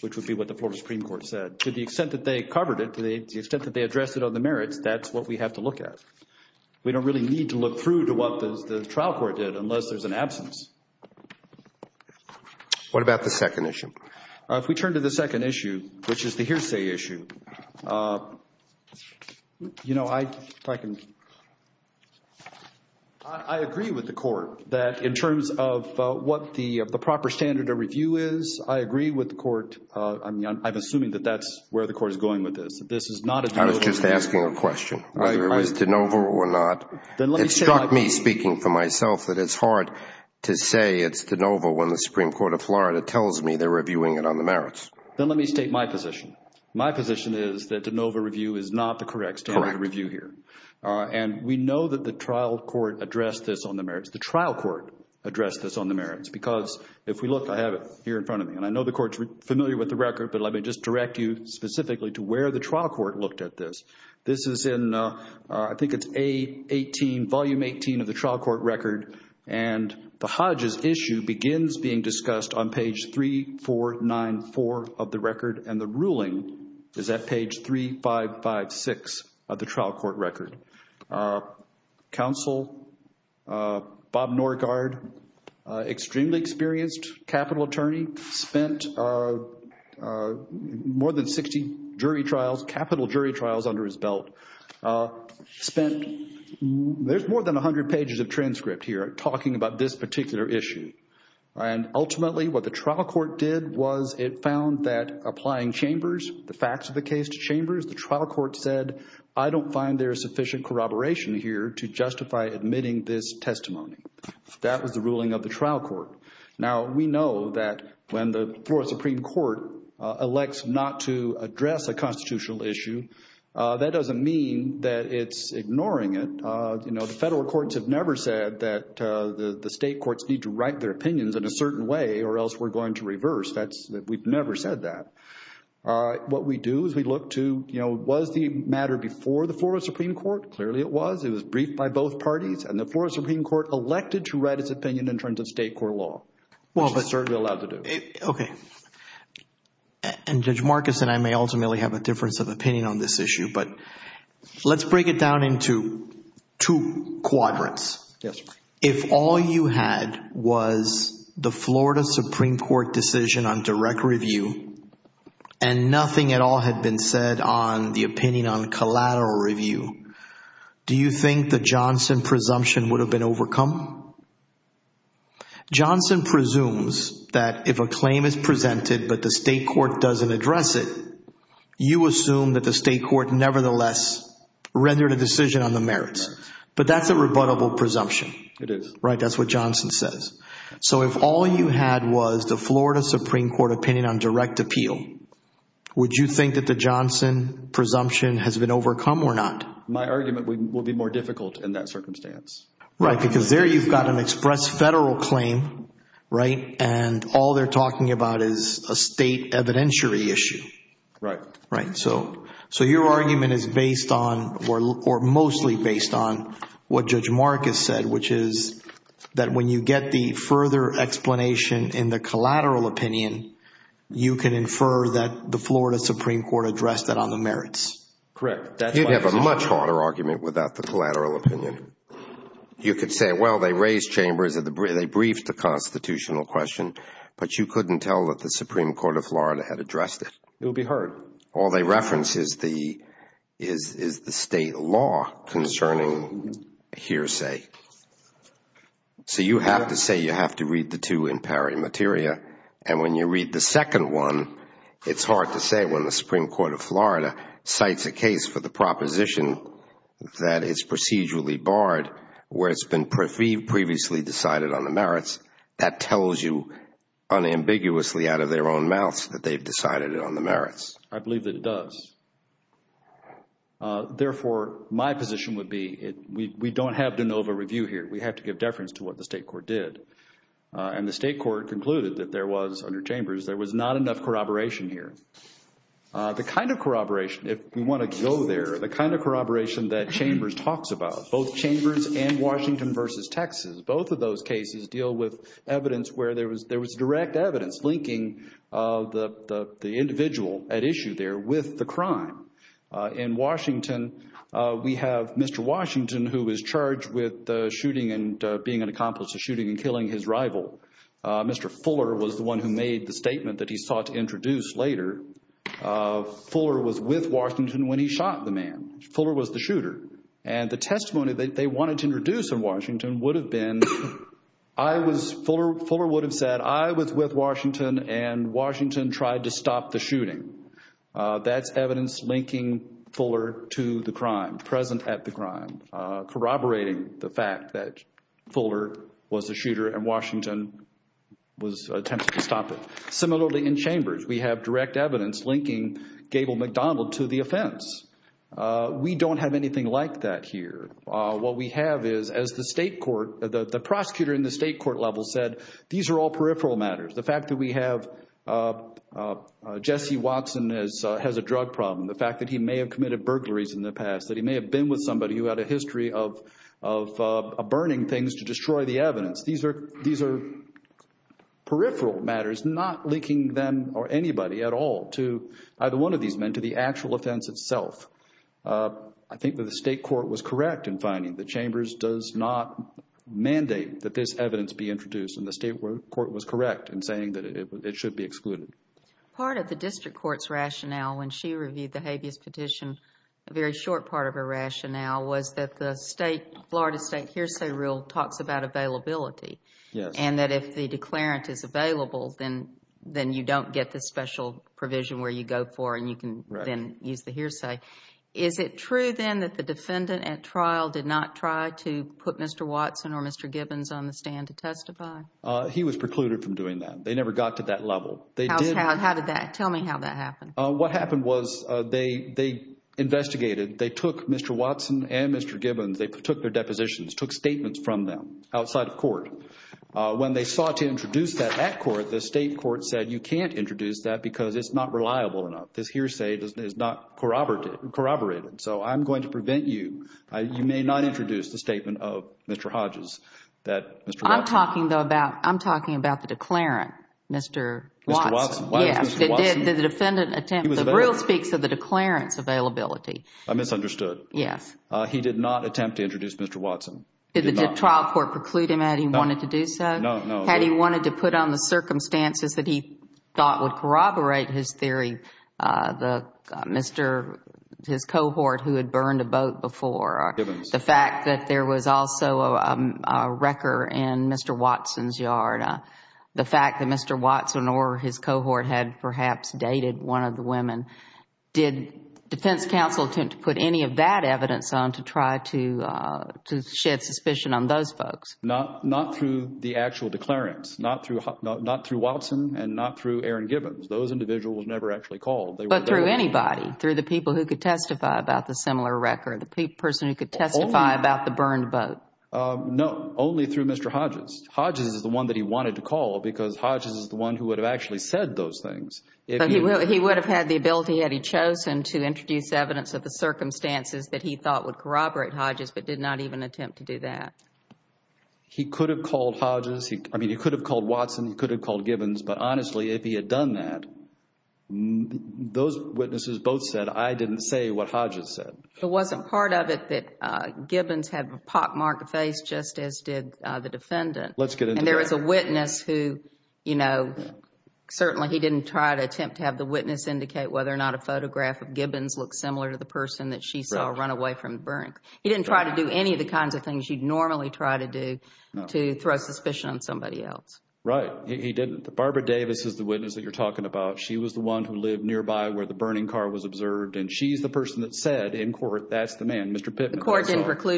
which would be what the Florida Supreme Court said. To the extent that they covered it, to the extent that they addressed it on the merits, that's what we have to look at. We don't really need to look through to what the trial court did unless there's an absence. What about the second issue? If we turn to the second issue, which is the hearsay issue, I agree with the court that, in terms of what the proper standard of review is, I agree with the court. I'm assuming that that's where the court is going with this. This is not a- I was just asking a question. Whether it was DeNova or not. It struck me, speaking for myself, that it's hard to say it's DeNova when the Supreme Court of Florida tells me they're reviewing it on the merits. Then let me state my position. My position is, is that DeNova review is not the correct standard of review here. We know that the trial court addressed this on the merits. The trial court addressed this on the merits because if we look, I have it here in front of me. I know the court's familiar with the record, but let me just direct you specifically to where the trial court looked at this. This is in, I think it's A18, Volume 18 of the trial court record. The Hodges issue begins being discussed on page 3494 of the record. The ruling is at page 3556 of the trial court record. Counsel Bob Norgaard, extremely experienced capital attorney, spent more than 60 jury trials, capital jury trials under his belt. There's more than 100 pages of transcript here talking about this particular issue. Ultimately, what the trial court did was it found that applying Chambers, the facts of the case to Chambers, the trial court said, I don't find there's sufficient corroboration here to justify admitting this testimony. That was the ruling of the trial court. Now, we know that when the Florida Supreme Court elects not to address a constitutional issue, that doesn't mean that it's ignoring it. The federal courts have never said that the state courts need to write their opinions in a certain way or else we're going to reverse. We've never said that. What we do is we look to, was the matter before the Florida Supreme Court? Clearly it was. It was briefed by both parties, and the Florida Supreme Court elected to write its opinion in terms of state court law. But certainly allowed to do it. Okay. Judge Marcus and I may ultimately have a difference of opinion on this issue, but let's break it down into two quadrants. If all you had was the Florida Supreme Court decision on direct review, and nothing at all had been said on the opinion on collateral review, do you think the Johnson presumption would have been overcome? Johnson presumes that if a claim is presented, but the state court doesn't address it, you assume that the state court nevertheless rendered a decision on the merits. But that's a rebuttable presumption. It is. Right? That's what Johnson says. So if all you had was the Florida Supreme Court opinion on direct appeal, would you think that the Johnson presumption has been overcome or not? My argument would be more difficult in that circumstance. Right, because there you've got an express federal claim, and all they're talking about is a state evidentiary issue. Right. So your argument is based on, or mostly based on, what Judge Marcus said, which is that when you get the further explanation in the collateral opinion, you can infer that the Florida Supreme Court addressed it on the merits. Correct. You'd have a much harder argument without the collateral opinion. You could say, well, they raised chambers, they briefed the constitutional question, but you couldn't tell that the Supreme Court of Florida had addressed it. It would be heard. All they reference is the state law concerning hearsay. So you have to say you have to read the two in pari materia, and when you read the second one, it's hard to say when the Supreme Court of Florida cites a case for the proposition that is procedurally barred, where it's been previously decided on the merits, that tells you unambiguously out of their own mouths that they've decided it on the merits. I believe it does. Therefore, my position would be we don't have de novo review here. We have to give deference to what the state court did. And the state court concluded that there was, under chambers, there was not enough corroboration here. The kind of corroboration, if we want to go there, the kind of corroboration that chambers talks about, both chambers and Washington versus Texas, both of those cases deal with evidence where there was direct evidence linking the individual at issue there with the crime. In Washington, we have Mr. Washington who was charged with shooting and being an accomplice to shooting and killing his rival. Mr. Fuller was the one who made the statement that he sought to introduce later. Fuller was with Washington when he shot the man. Fuller was the shooter. And the testimony that they wanted to introduce in Washington would have been, Fuller would have said, I was with Washington and Washington tried to stop the shooting. That's evidence linking Fuller to the crime, corroborating the fact that Fuller was the shooter and Washington was attempting to stop it. Similarly in chambers, we have direct evidence linking Gable McDonald to the offense. We don't have anything like that here. What we have is, as the prosecutor in the state court level said, these are all peripheral matters. The fact that we have, Jesse Watson has a drug problem. The fact that he may have committed burglaries in the past, that he may have been with somebody who had a history of burning things to destroy the evidence. These are peripheral matters not linking them or anybody at all to either one of these men to the actual offense itself. I think that the state court was correct in finding the chambers does not mandate that this evidence be introduced and the state court was correct in saying that it should be excluded. Part of the district court's rationale when she reviewed the Hagueus petition, a very short part of her rationale, was that the Florida state hearsay rule talks about availability and that if the declarant is available, then you don't get the special provision where you go for and you can then use the hearsay. Is it true then that the defendant at trial did not try to put Mr. Watson or Mr. Gibbons on the stand to testify? He was precluded from doing that. They never got to that level. Tell me how that happened. What happened was when they investigated, they took Mr. Watson and Mr. Gibbons, they took their depositions, took statements from them outside of court. When they sought to introduce that at court, the state court said you can't introduce that because it's not reliable enough. This hearsay is not corroborated. I'm going to prevent you. You may not introduce the statement of Mr. Hodges. I'm talking about the declarant, Mr. Watson. Mr. Watson? Yes. Did the defendant attempt? The rule speaks to the declarant's availability. I misunderstood. He did not attempt to introduce Mr. Watson. Did the trial court preclude him that he wanted to do so? Had he wanted to put on the circumstances that he thought would corroborate his theory, his cohort who had burned a boat before, the fact that there was also a wrecker in Mr. Watson's yard, the fact that Mr. Watson or his cohort had perhaps dated one of the women? Did defense counsel attempt to put any of that evidence on to try to shed suspicion on those folks? Not through the actual declarants, not through Watson, and not through Aaron Gibbons. Those individuals never actually called. But through anybody, through the people who could testify about the similar wrecker, the person who could testify about the burned boat? No, only through Mr. Hodges. Hodges is the one that he wanted to call on those things. He would have had the ability, had he chosen to introduce evidence of the circumstances that he thought would corroborate Hodges, but did not even attempt to do that. He could have called Watson, he could have called Gibbons, but honestly, if he had done that, those witnesses both said, I didn't say what Hodges said. It wasn't part of it that Gibbons had a pockmarked face, just as did the defendant. Let's get into that. He didn't try to attempt to have the witness indicate whether or not a photograph of Gibbons looked similar to the person that she saw run away from the burn. He didn't try to do any of the kinds of things you'd normally try to do to throw suspicion on somebody else. Right, he didn't. Barbara Davis is the witness that you're talking about. She was the one who lived nearby where the burning car was observed, and she's the person that said in court, that's the man, Mr. Pittman. Did she force him not to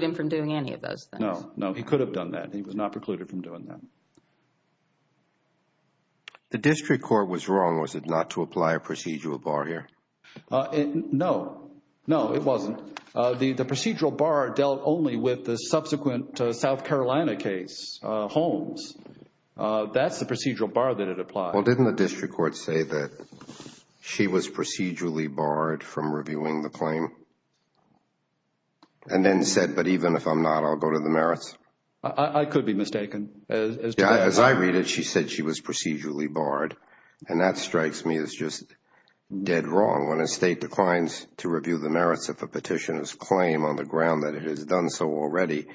apply a procedural bar here? No, no, it wasn't. The procedural bar dealt only with the subsequent South Carolina case, Holmes. That's the procedural bar that it applied. Well, didn't the district court say that she was procedurally barred from reviewing the claim, and then said, but even if I'm not, I'll go to the merits? I could be mistaken. As I read it, she said she was procedurally barred, and that strikes me as just dead wrong. When a state declines to review the merits of a petitioner's claim on the ground that it has done so already,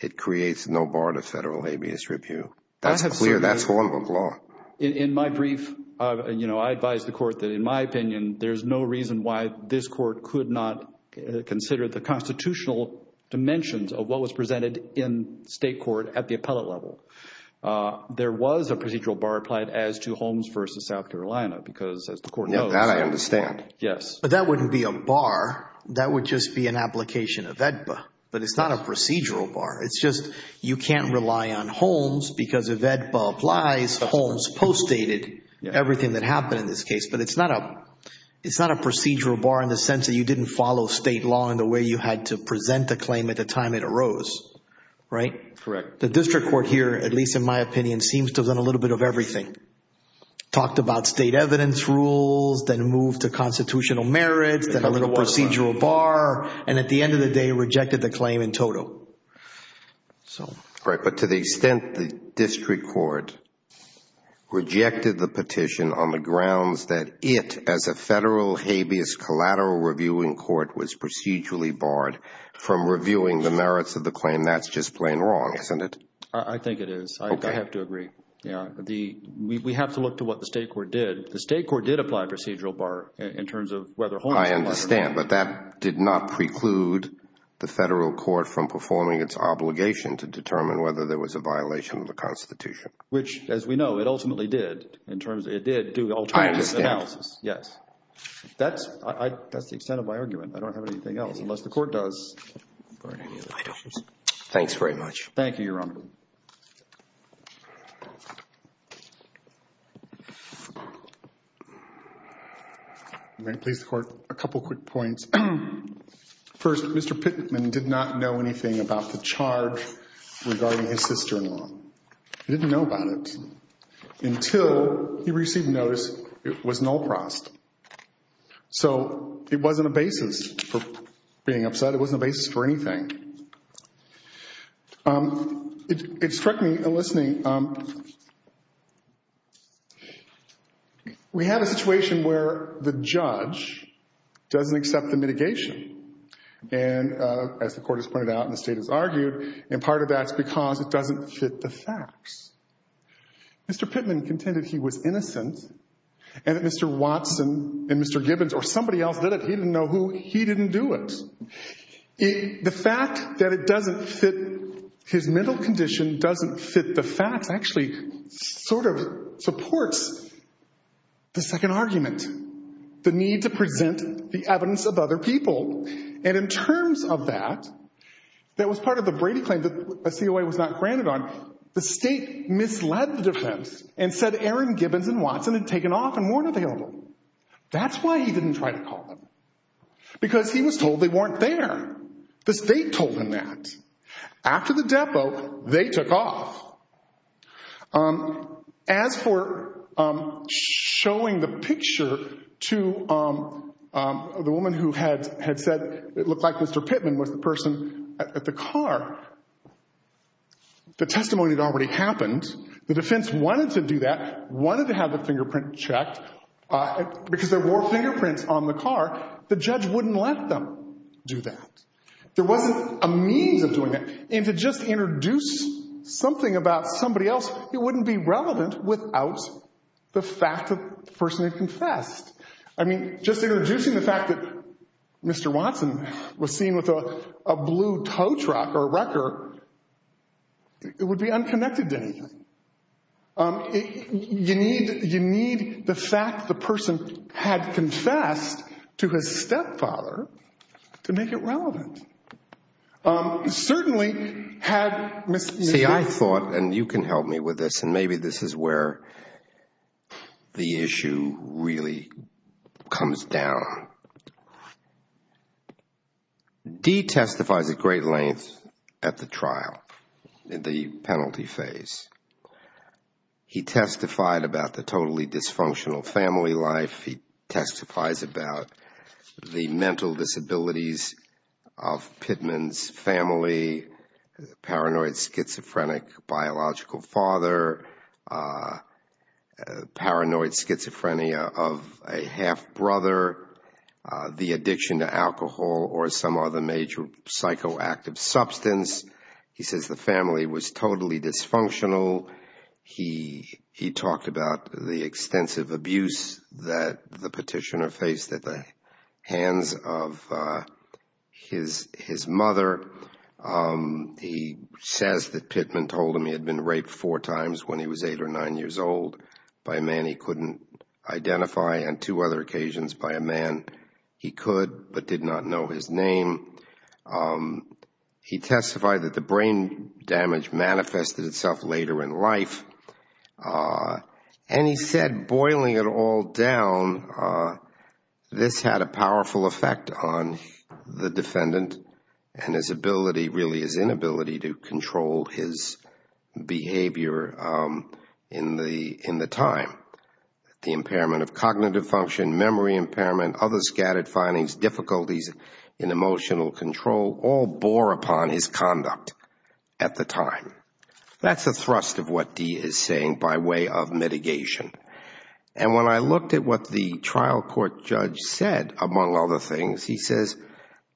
it creates no bar to federal Habeas Review. That's clear. That's the law. In my brief, I advise the court that in my opinion, there's no reason why this court could not consider the constitutional dimensions of what was presented in state court at the appellate level. There was a procedural bar applied as to Holmes versus South Carolina, because as the court knows. Yes, that I understand. That wouldn't be a bar. That would just be an application of AEDPA, but it's not a procedural bar. It's just you can't rely on Holmes because AEDPA applies. Holmes postdated everything that happened in this case, but it's not a procedural bar in the sense that you didn't follow state law in the way you had to present the claim at the time it arose. Correct. The district court here, at least in my opinion, seems to have done a little bit of everything. Talked about state evidence rules, then moved to constitutional merits, then a little procedural bar, and at the end of the day, rejected the claim in total. Right, but to the extent the district court rejected the petition on the grounds that it, as a federal Habeas collateral reviewing court, was procedurally barred from reviewing the merits of the claim, that's just plain wrong. I don't understand it. I think it is. I have to agree. We have to look to what the state court did. The state court did apply procedural bar in terms of whether Holmes... I understand, but that did not preclude the federal court from performing its obligation to determine whether there was a violation of the Constitution. Which, as we know, it ultimately did. I understand. That's the extent of my argument. All right, please court, a couple quick points. First, Mr. Pittman did not know anything about the charge regarding his sister-in-law. He didn't know about it until he received a notice it was null-profit. So, it wasn't a basis It wasn't a basis for anything. So, Mr. Pittman, as I understand it, it struck me in listening, we have a situation where the judge doesn't accept the mitigation. And as the court has pointed out and the state has argued, and part of that is because it doesn't fit the facts. Mr. Pittman contended he was innocent and that Mr. Watson and Mr. Gibbons or somebody else did it, he didn't know who, he didn't do it. The fact that it doesn't fit his mental condition doesn't fit the facts actually sort of supports the second argument, the need to present the evidence of other people. And in terms of that, that was part of the Brady claim that COA was not granted on, the state misled the defense and said Aaron Gibbons and Watson had taken off and weren't available. That's why he didn't try to call them because he was told they weren't there. The state told him that. After the depo, they took off. As for showing the picture to the woman who had said it looked like Mr. Pittman was the person at the car, the testimony had already happened. The defense wanted to do that, wanted to have the fingerprint checked because there were fingerprints but the judge wouldn't let them do that. There wasn't a need to do that. And to just introduce something about somebody else, it wouldn't be relevant without the fact that the person had confessed. I mean just introducing the fact that Mr. Watson was seen with a blue tow truck or a wrecker, it would be unconnected to anything. You need the fact the person had confessed to their stepfather to make it relevant. It certainly had... See I thought, and you can help me with this, and maybe this is where the issue really comes down. Dee testifies at great length at the trial, the penalty phase. He testified about the totally dysfunctional family life. He testifies about the mental disabilities of Pittman's family, paranoid schizophrenic biological father, paranoid schizophrenia of a half-brother, the addiction to alcohol or some other major psychoactive substance. He says the family was totally dysfunctional. He talked about the extensive abuse that the petitioner faced at the hands of his mother. He says that Pittman told him he had been raped four times when he was eight or nine years old by a man he couldn't identify and two other occasions by a man he could but did not know his name. He testified that the brain damage manifested itself later in life. He said boiling it all down, this had a powerful effect on the defendant and his ability really, his inability to control his behavior in the time. The impairment of cognitive function, memory impairment, other scattered findings, difficulties in emotional control all bore upon his conduct at the time. That's a thrust of what Dee is saying by way of what the trial court judge said among other things. He says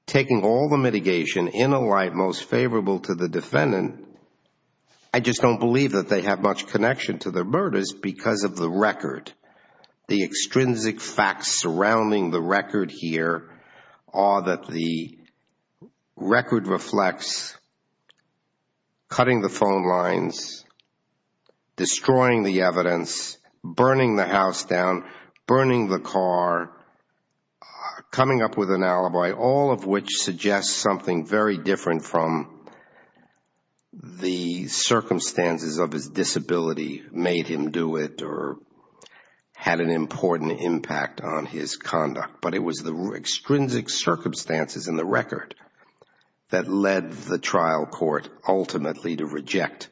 taking all the mitigation in a light most favorable to the defendant, I just don't believe that they have much connection to the murders because of the record. The extrinsic facts surrounding the record here are that the record reflects cutting the phone lines, destroying the evidence, burning the house down, burning the car, coming up with an alibi, all of which suggests something very different from the circumstances of his disability made him do it or had an important impact on his conduct. But it was the extrinsic circumstances in the record that led the trial court ultimately to reject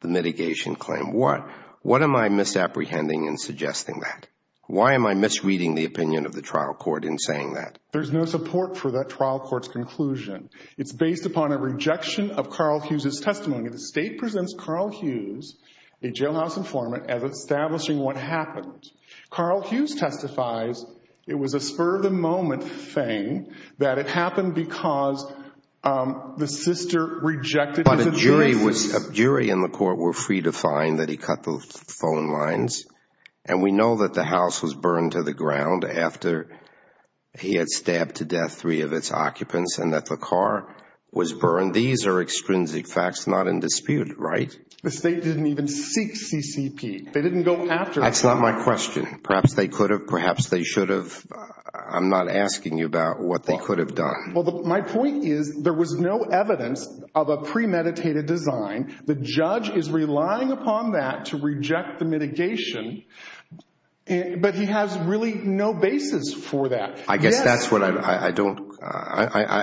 the mitigation claim. What am I misapprehending in suggesting that? Why am I misreading the opinion of the trial court in saying that? There's no support for that trial court's conclusion. It's based upon a rejection of Carl Hughes' testimony. The state presents Carl Hughes, a jailhouse informant, as establishing what happened. it was a spur of the moment thing that it happened because the sister rejected the jury. A jury and the court were free to find that he cut the phone lines. And we know that the house was burned to the ground after he had stabbed to death three of its occupants and that the car was burned. These are extrinsic facts, not in dispute, right? The state didn't even seek CCP. They didn't go after it. That's not my question. Perhaps they could have. Perhaps they should have. I'm not asking you about what they could have done. Well, my point is there was no evidence of a premeditated design. The judge is relying upon that to reject the mitigation, but he has really no basis for that. I guess that's what I don't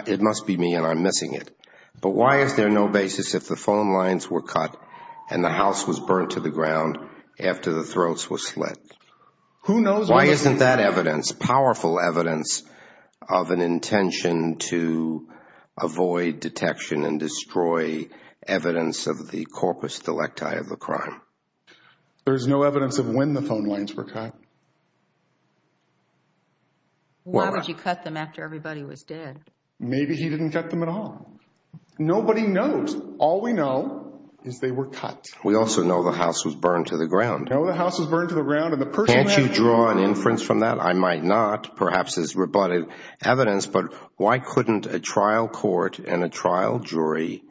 it must be me and I'm missing it. But why is there no basis if the phone lines were cut and the house was burned to the ground after the throats were slit? Who knows? Why isn't that evidence, powerful evidence, of an intention to avoid detection and destroy evidence of the corpus delicti of a crime? There is no evidence of when the phone lines were cut. Why would you cut them after everybody was dead? Maybe he didn't cut them at all. Nobody knows. All we know is they were cut. We also know the house was burned to the ground. We know the house was burned to the ground and the person... Can't you draw an inference from that? I might not. Perhaps there's rebutted evidence, but why couldn't a trial court and a trial jury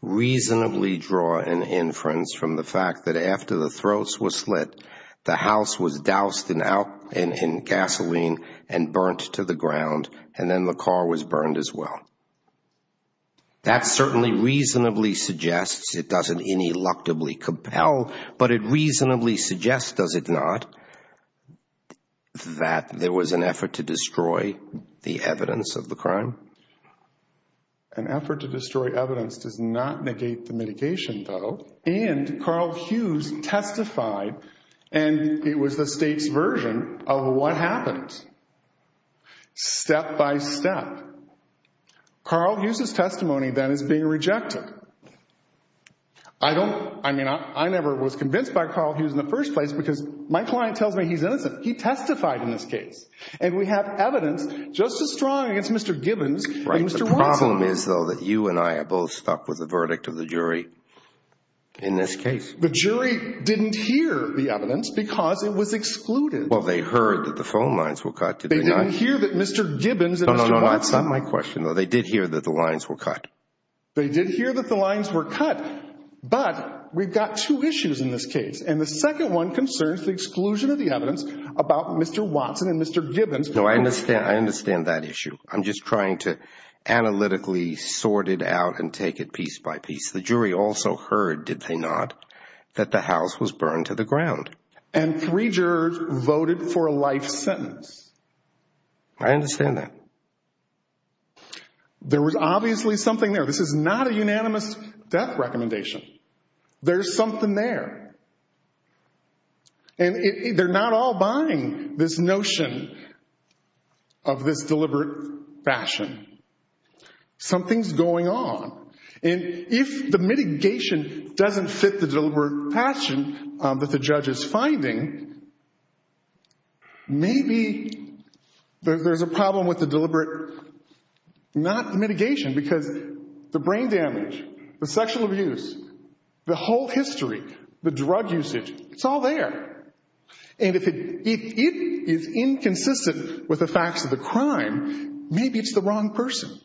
reasonably draw an inference from the fact that after the throats were slit, the house was doused in gasoline and burnt to the ground and then the car was burned as well? That certainly reasonably suggests it doesn't ineluctably compel, but it reasonably suggests, does it not, that there was an effort to destroy the evidence of the crime? An effort to destroy evidence does not negate the mitigation, though. And Carl Hughes testified, and it was the state's version of what happens step by step. Carl Hughes' testimony, then, is being rejected. I don't... I mean, I never was convinced by Carl Hughes in the first place because my client tells me he's innocent. He testified in this case, and we have evidence just as well. The problem is, though, that you and I are both stuck with the verdict of the jury in this case. The jury didn't hear the evidence because it was excluded. Well, they heard that the phone lines were cut. They didn't hear that Mr. Gibbons and Mr. Watson... No, no, no, that's not my question, though. They did hear that the lines were cut. They did hear that the lines were cut, but we've got two issues in this case, and the second one concerns the exclusion of the evidence about Mr. Watson and Mr. Gibbons... No, I understand that issue. I'm just trying to analytically sort it out and take it piece by piece. The jury also heard, did they not, that the house was burned to the ground. And three jurors voted for a life sentence. I understand that. There was obviously something there. This is not a unanimous death recommendation. There's something there. And they're not all buying this notion of this deliberate passion. Something's going on. And if the mitigation doesn't fit the deliberate passion that the mitigation, because the brain damage, the sexual abuse, the mental health issues, the mental health issues, the mental health issues, the mental health issues, the mental health issues, the mental the mental health issues, the mental health issues. This is all there. And if it's inconsistent with the fact of the crime, maybe it's the wrong person.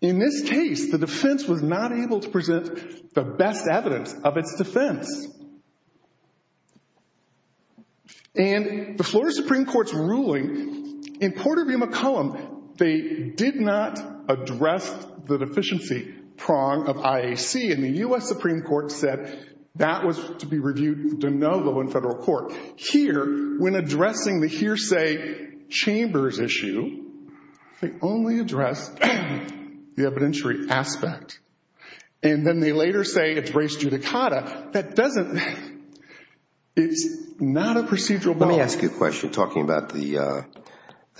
In this case, the defense was not able to present the best evidence of its defense. And the Florida Supreme Court said that was to be reviewed in federal court. Here, when addressing the hearsay chambers issue, they only address the evidentiary aspect. And then they later say it's race judicata. That doesn't it's not a procedural bill. I'll ask you a question talking about the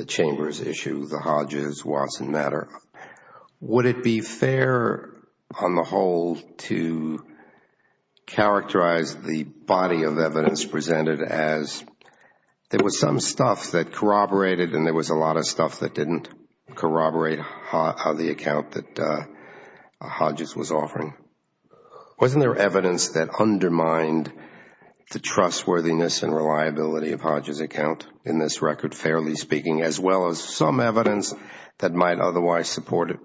chambers issue, the Hodges, Watson matter. Would it be fair on the whole to characterize the body of evidence presented as there was some stuff that corroborated and there was a lot of stuff that didn't corroborate the account that Hodges was offering? Wasn't there evidence that undermined the trustworthiness and reliability of Hodges' account in this record, fairly speaking, as well as some evidence that might otherwise support it?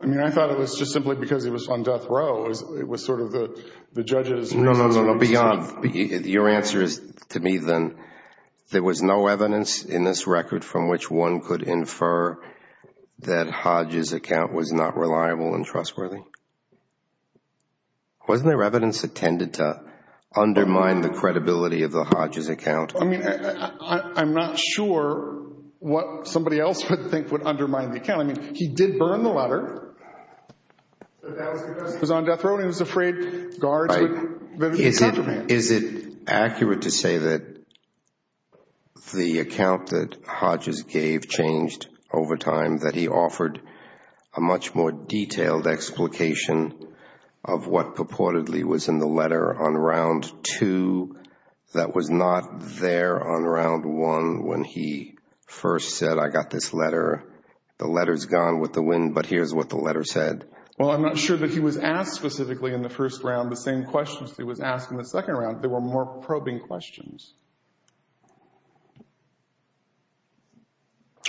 I mean, I thought it was just simply because it was on death row. It was sort of the judge's view. No, no, beyond. Your answer to me, then, there was no evidence in this record from which one could infer that Hodges' account was not reliable and trustworthy? Wasn't there evidence that undermined the credibility of the Hodges' account? I mean, I'm not sure what somebody else would think would undermine the account. I mean, he did burn the letter. He was on death row and he was afraid guards would have it. Is it accurate to say that the account that Hodges gave changed over time, that he offered a letter on round two that was not there on round one when he first said, I got this letter, the letter's gone with the wind, but here's what the letter said? Well, I'm not sure that he was asked specifically in the first round the same questions he was asked in the second round. There were more probing questions.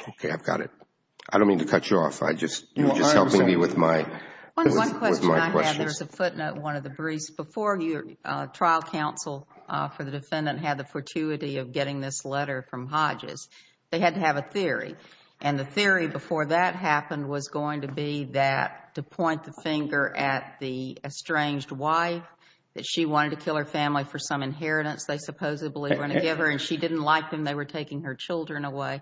Okay. I've got it. I don't mean to cut you off. You were just helping me with my questions. One question I have, there's a footnote in one of the briefs. Before your trial counsel for the defendant had the fortuity of getting this letter from Hodges, they had to have a theory. The theory before that happened was going to be that to point the finger at the estranged wife, that she wanted to kill her family for some inheritance they supposedly were going to give her and she didn't like them, they were taking her children away.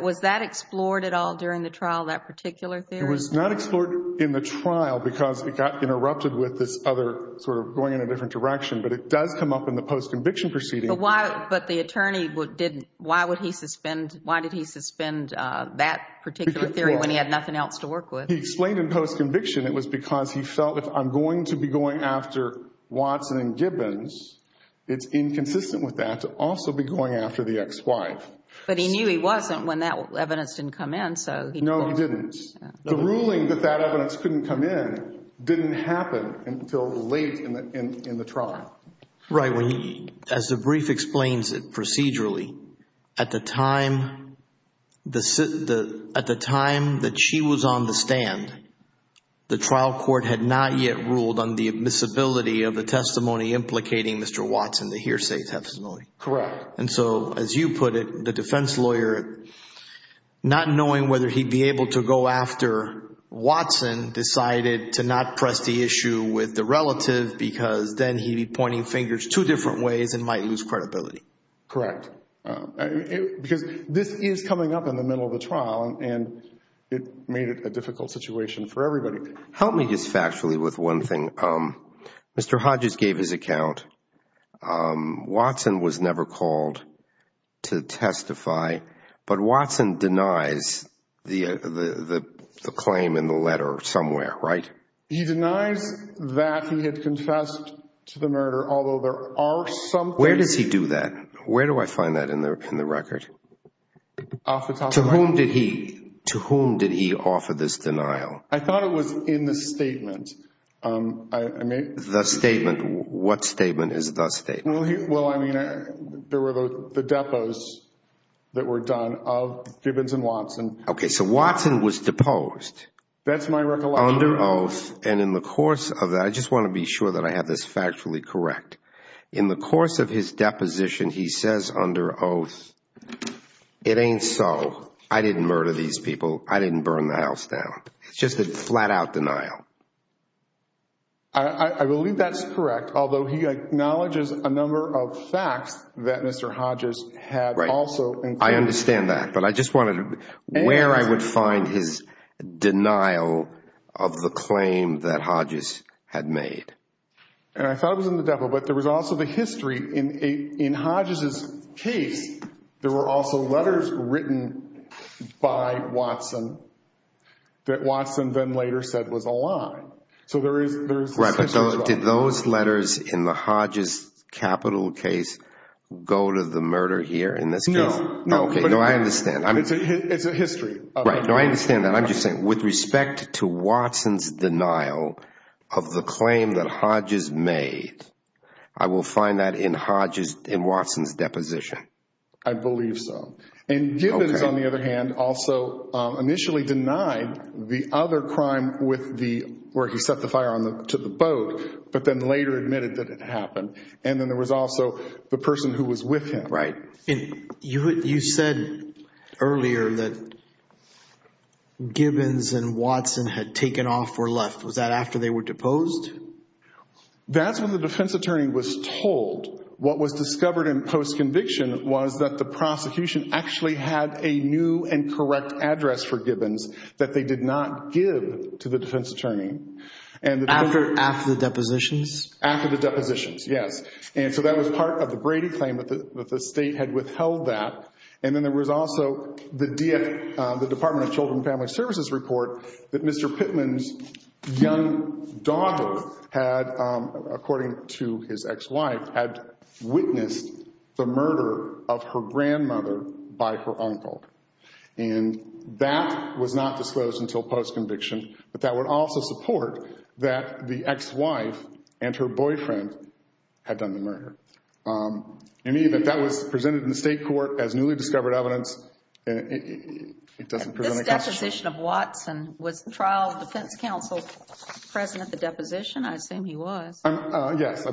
Was that explored at all during the trial, that particular theory? It was not explored in the trial because it got interrupted with this other sort of going I'm going to be going after Watson and Gibbons. It's inconsistent with that to also be going after the ex-wife. He knew he wasn't when that evidence didn't come in. No, he didn't. The ruling that that evidence couldn't come in didn't happen until late in the trial. Right. As the brief explains it procedurally, at the time that she was on the stand, the trial court had not yet ruled on the admissibility of the testimony implicating Mr. Watson, the hearsay testimony. Correct. As you put it, the defense lawyer not knowing whether he'd be able to go after Watson decided to not press the issue with the relative because then he'd be pointing fingers two different ways and might lose credibility. Correct. This is coming up in the middle of the trial and it made it a difficult situation for everybody. Help me just factually with one thing. Mr. Hodges gave his account. Watson was never called to testify, but Watson denies the claim in the letter somewhere, right? He denies that he had confessed to the murder although there are some Where did he do that? Where do I find that in the record? To whom did he offer this denial? I thought it was in the statement. What statement is the statement? There were the depots that were done of Gibbons and Watson. Watson was deposed. That's my recollection. Under oath and in the course of that, I just want to be sure that I have this factually correct. In the course of his deposition, he says under oath, it ain't so. I didn't murder these people. I didn't burn the house down. Just a flat out denial. I believe that's correct, although he acknowledges a number of facts that Mr. Hodges had also I understand that. Where I would find his denial of the claim that Hodges had made? I thought it was in the case. In Hodges's case, there were also letters written by Watson that Watson then later said was a lie. There is one episode. Did those letters in the Hodges capital case go to the murder here in this case? No. I understand. It's a history. I understand that. I'm just saying with respect to Watson's denial of the claim that Hodges made, I will find that in Watson's deposition. I believe so. Gibbons, on the other hand, also initially denied the other crime where he set the fire to both, but then later admitted that it happened. Then there was also the person who was with him. You said earlier that Gibbons and Watson had taken off or left. Was that after they were deposed? That's when the defense attorney was told. What was discovered in post-conviction was that the prosecution actually had a new and correct address for Gibbons that they did not give to the defense attorney. After the depositions? After the depositions, yes. That was part of the investigation. defense attorney said that Mr. Pittman's young daughter had, according to his ex-wife, had witnessed the murder of her grandmother by her uncle. That was not disclosed until post-conviction, but that would also support that the ex-wife and her boyfriend had done the murder. That was presented in the state court as newly discovered evidence. It doesn't present itself. Was the trial of defense counsel present at the deposition? I assume he was. Yes.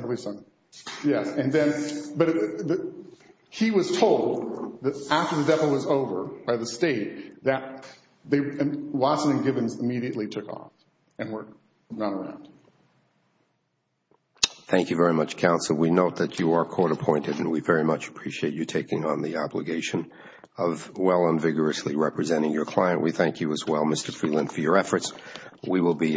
He was told that after the deposition was over by the state, that Watson and Gibbons immediately took off and were not around. Thank you very much, counsel. We know that you are court-appointed and we very much appreciate you taking on the obligation of well and vigorously representing your client. We thank you as well, Mr. Freeland, for your efforts. We will be adjourned.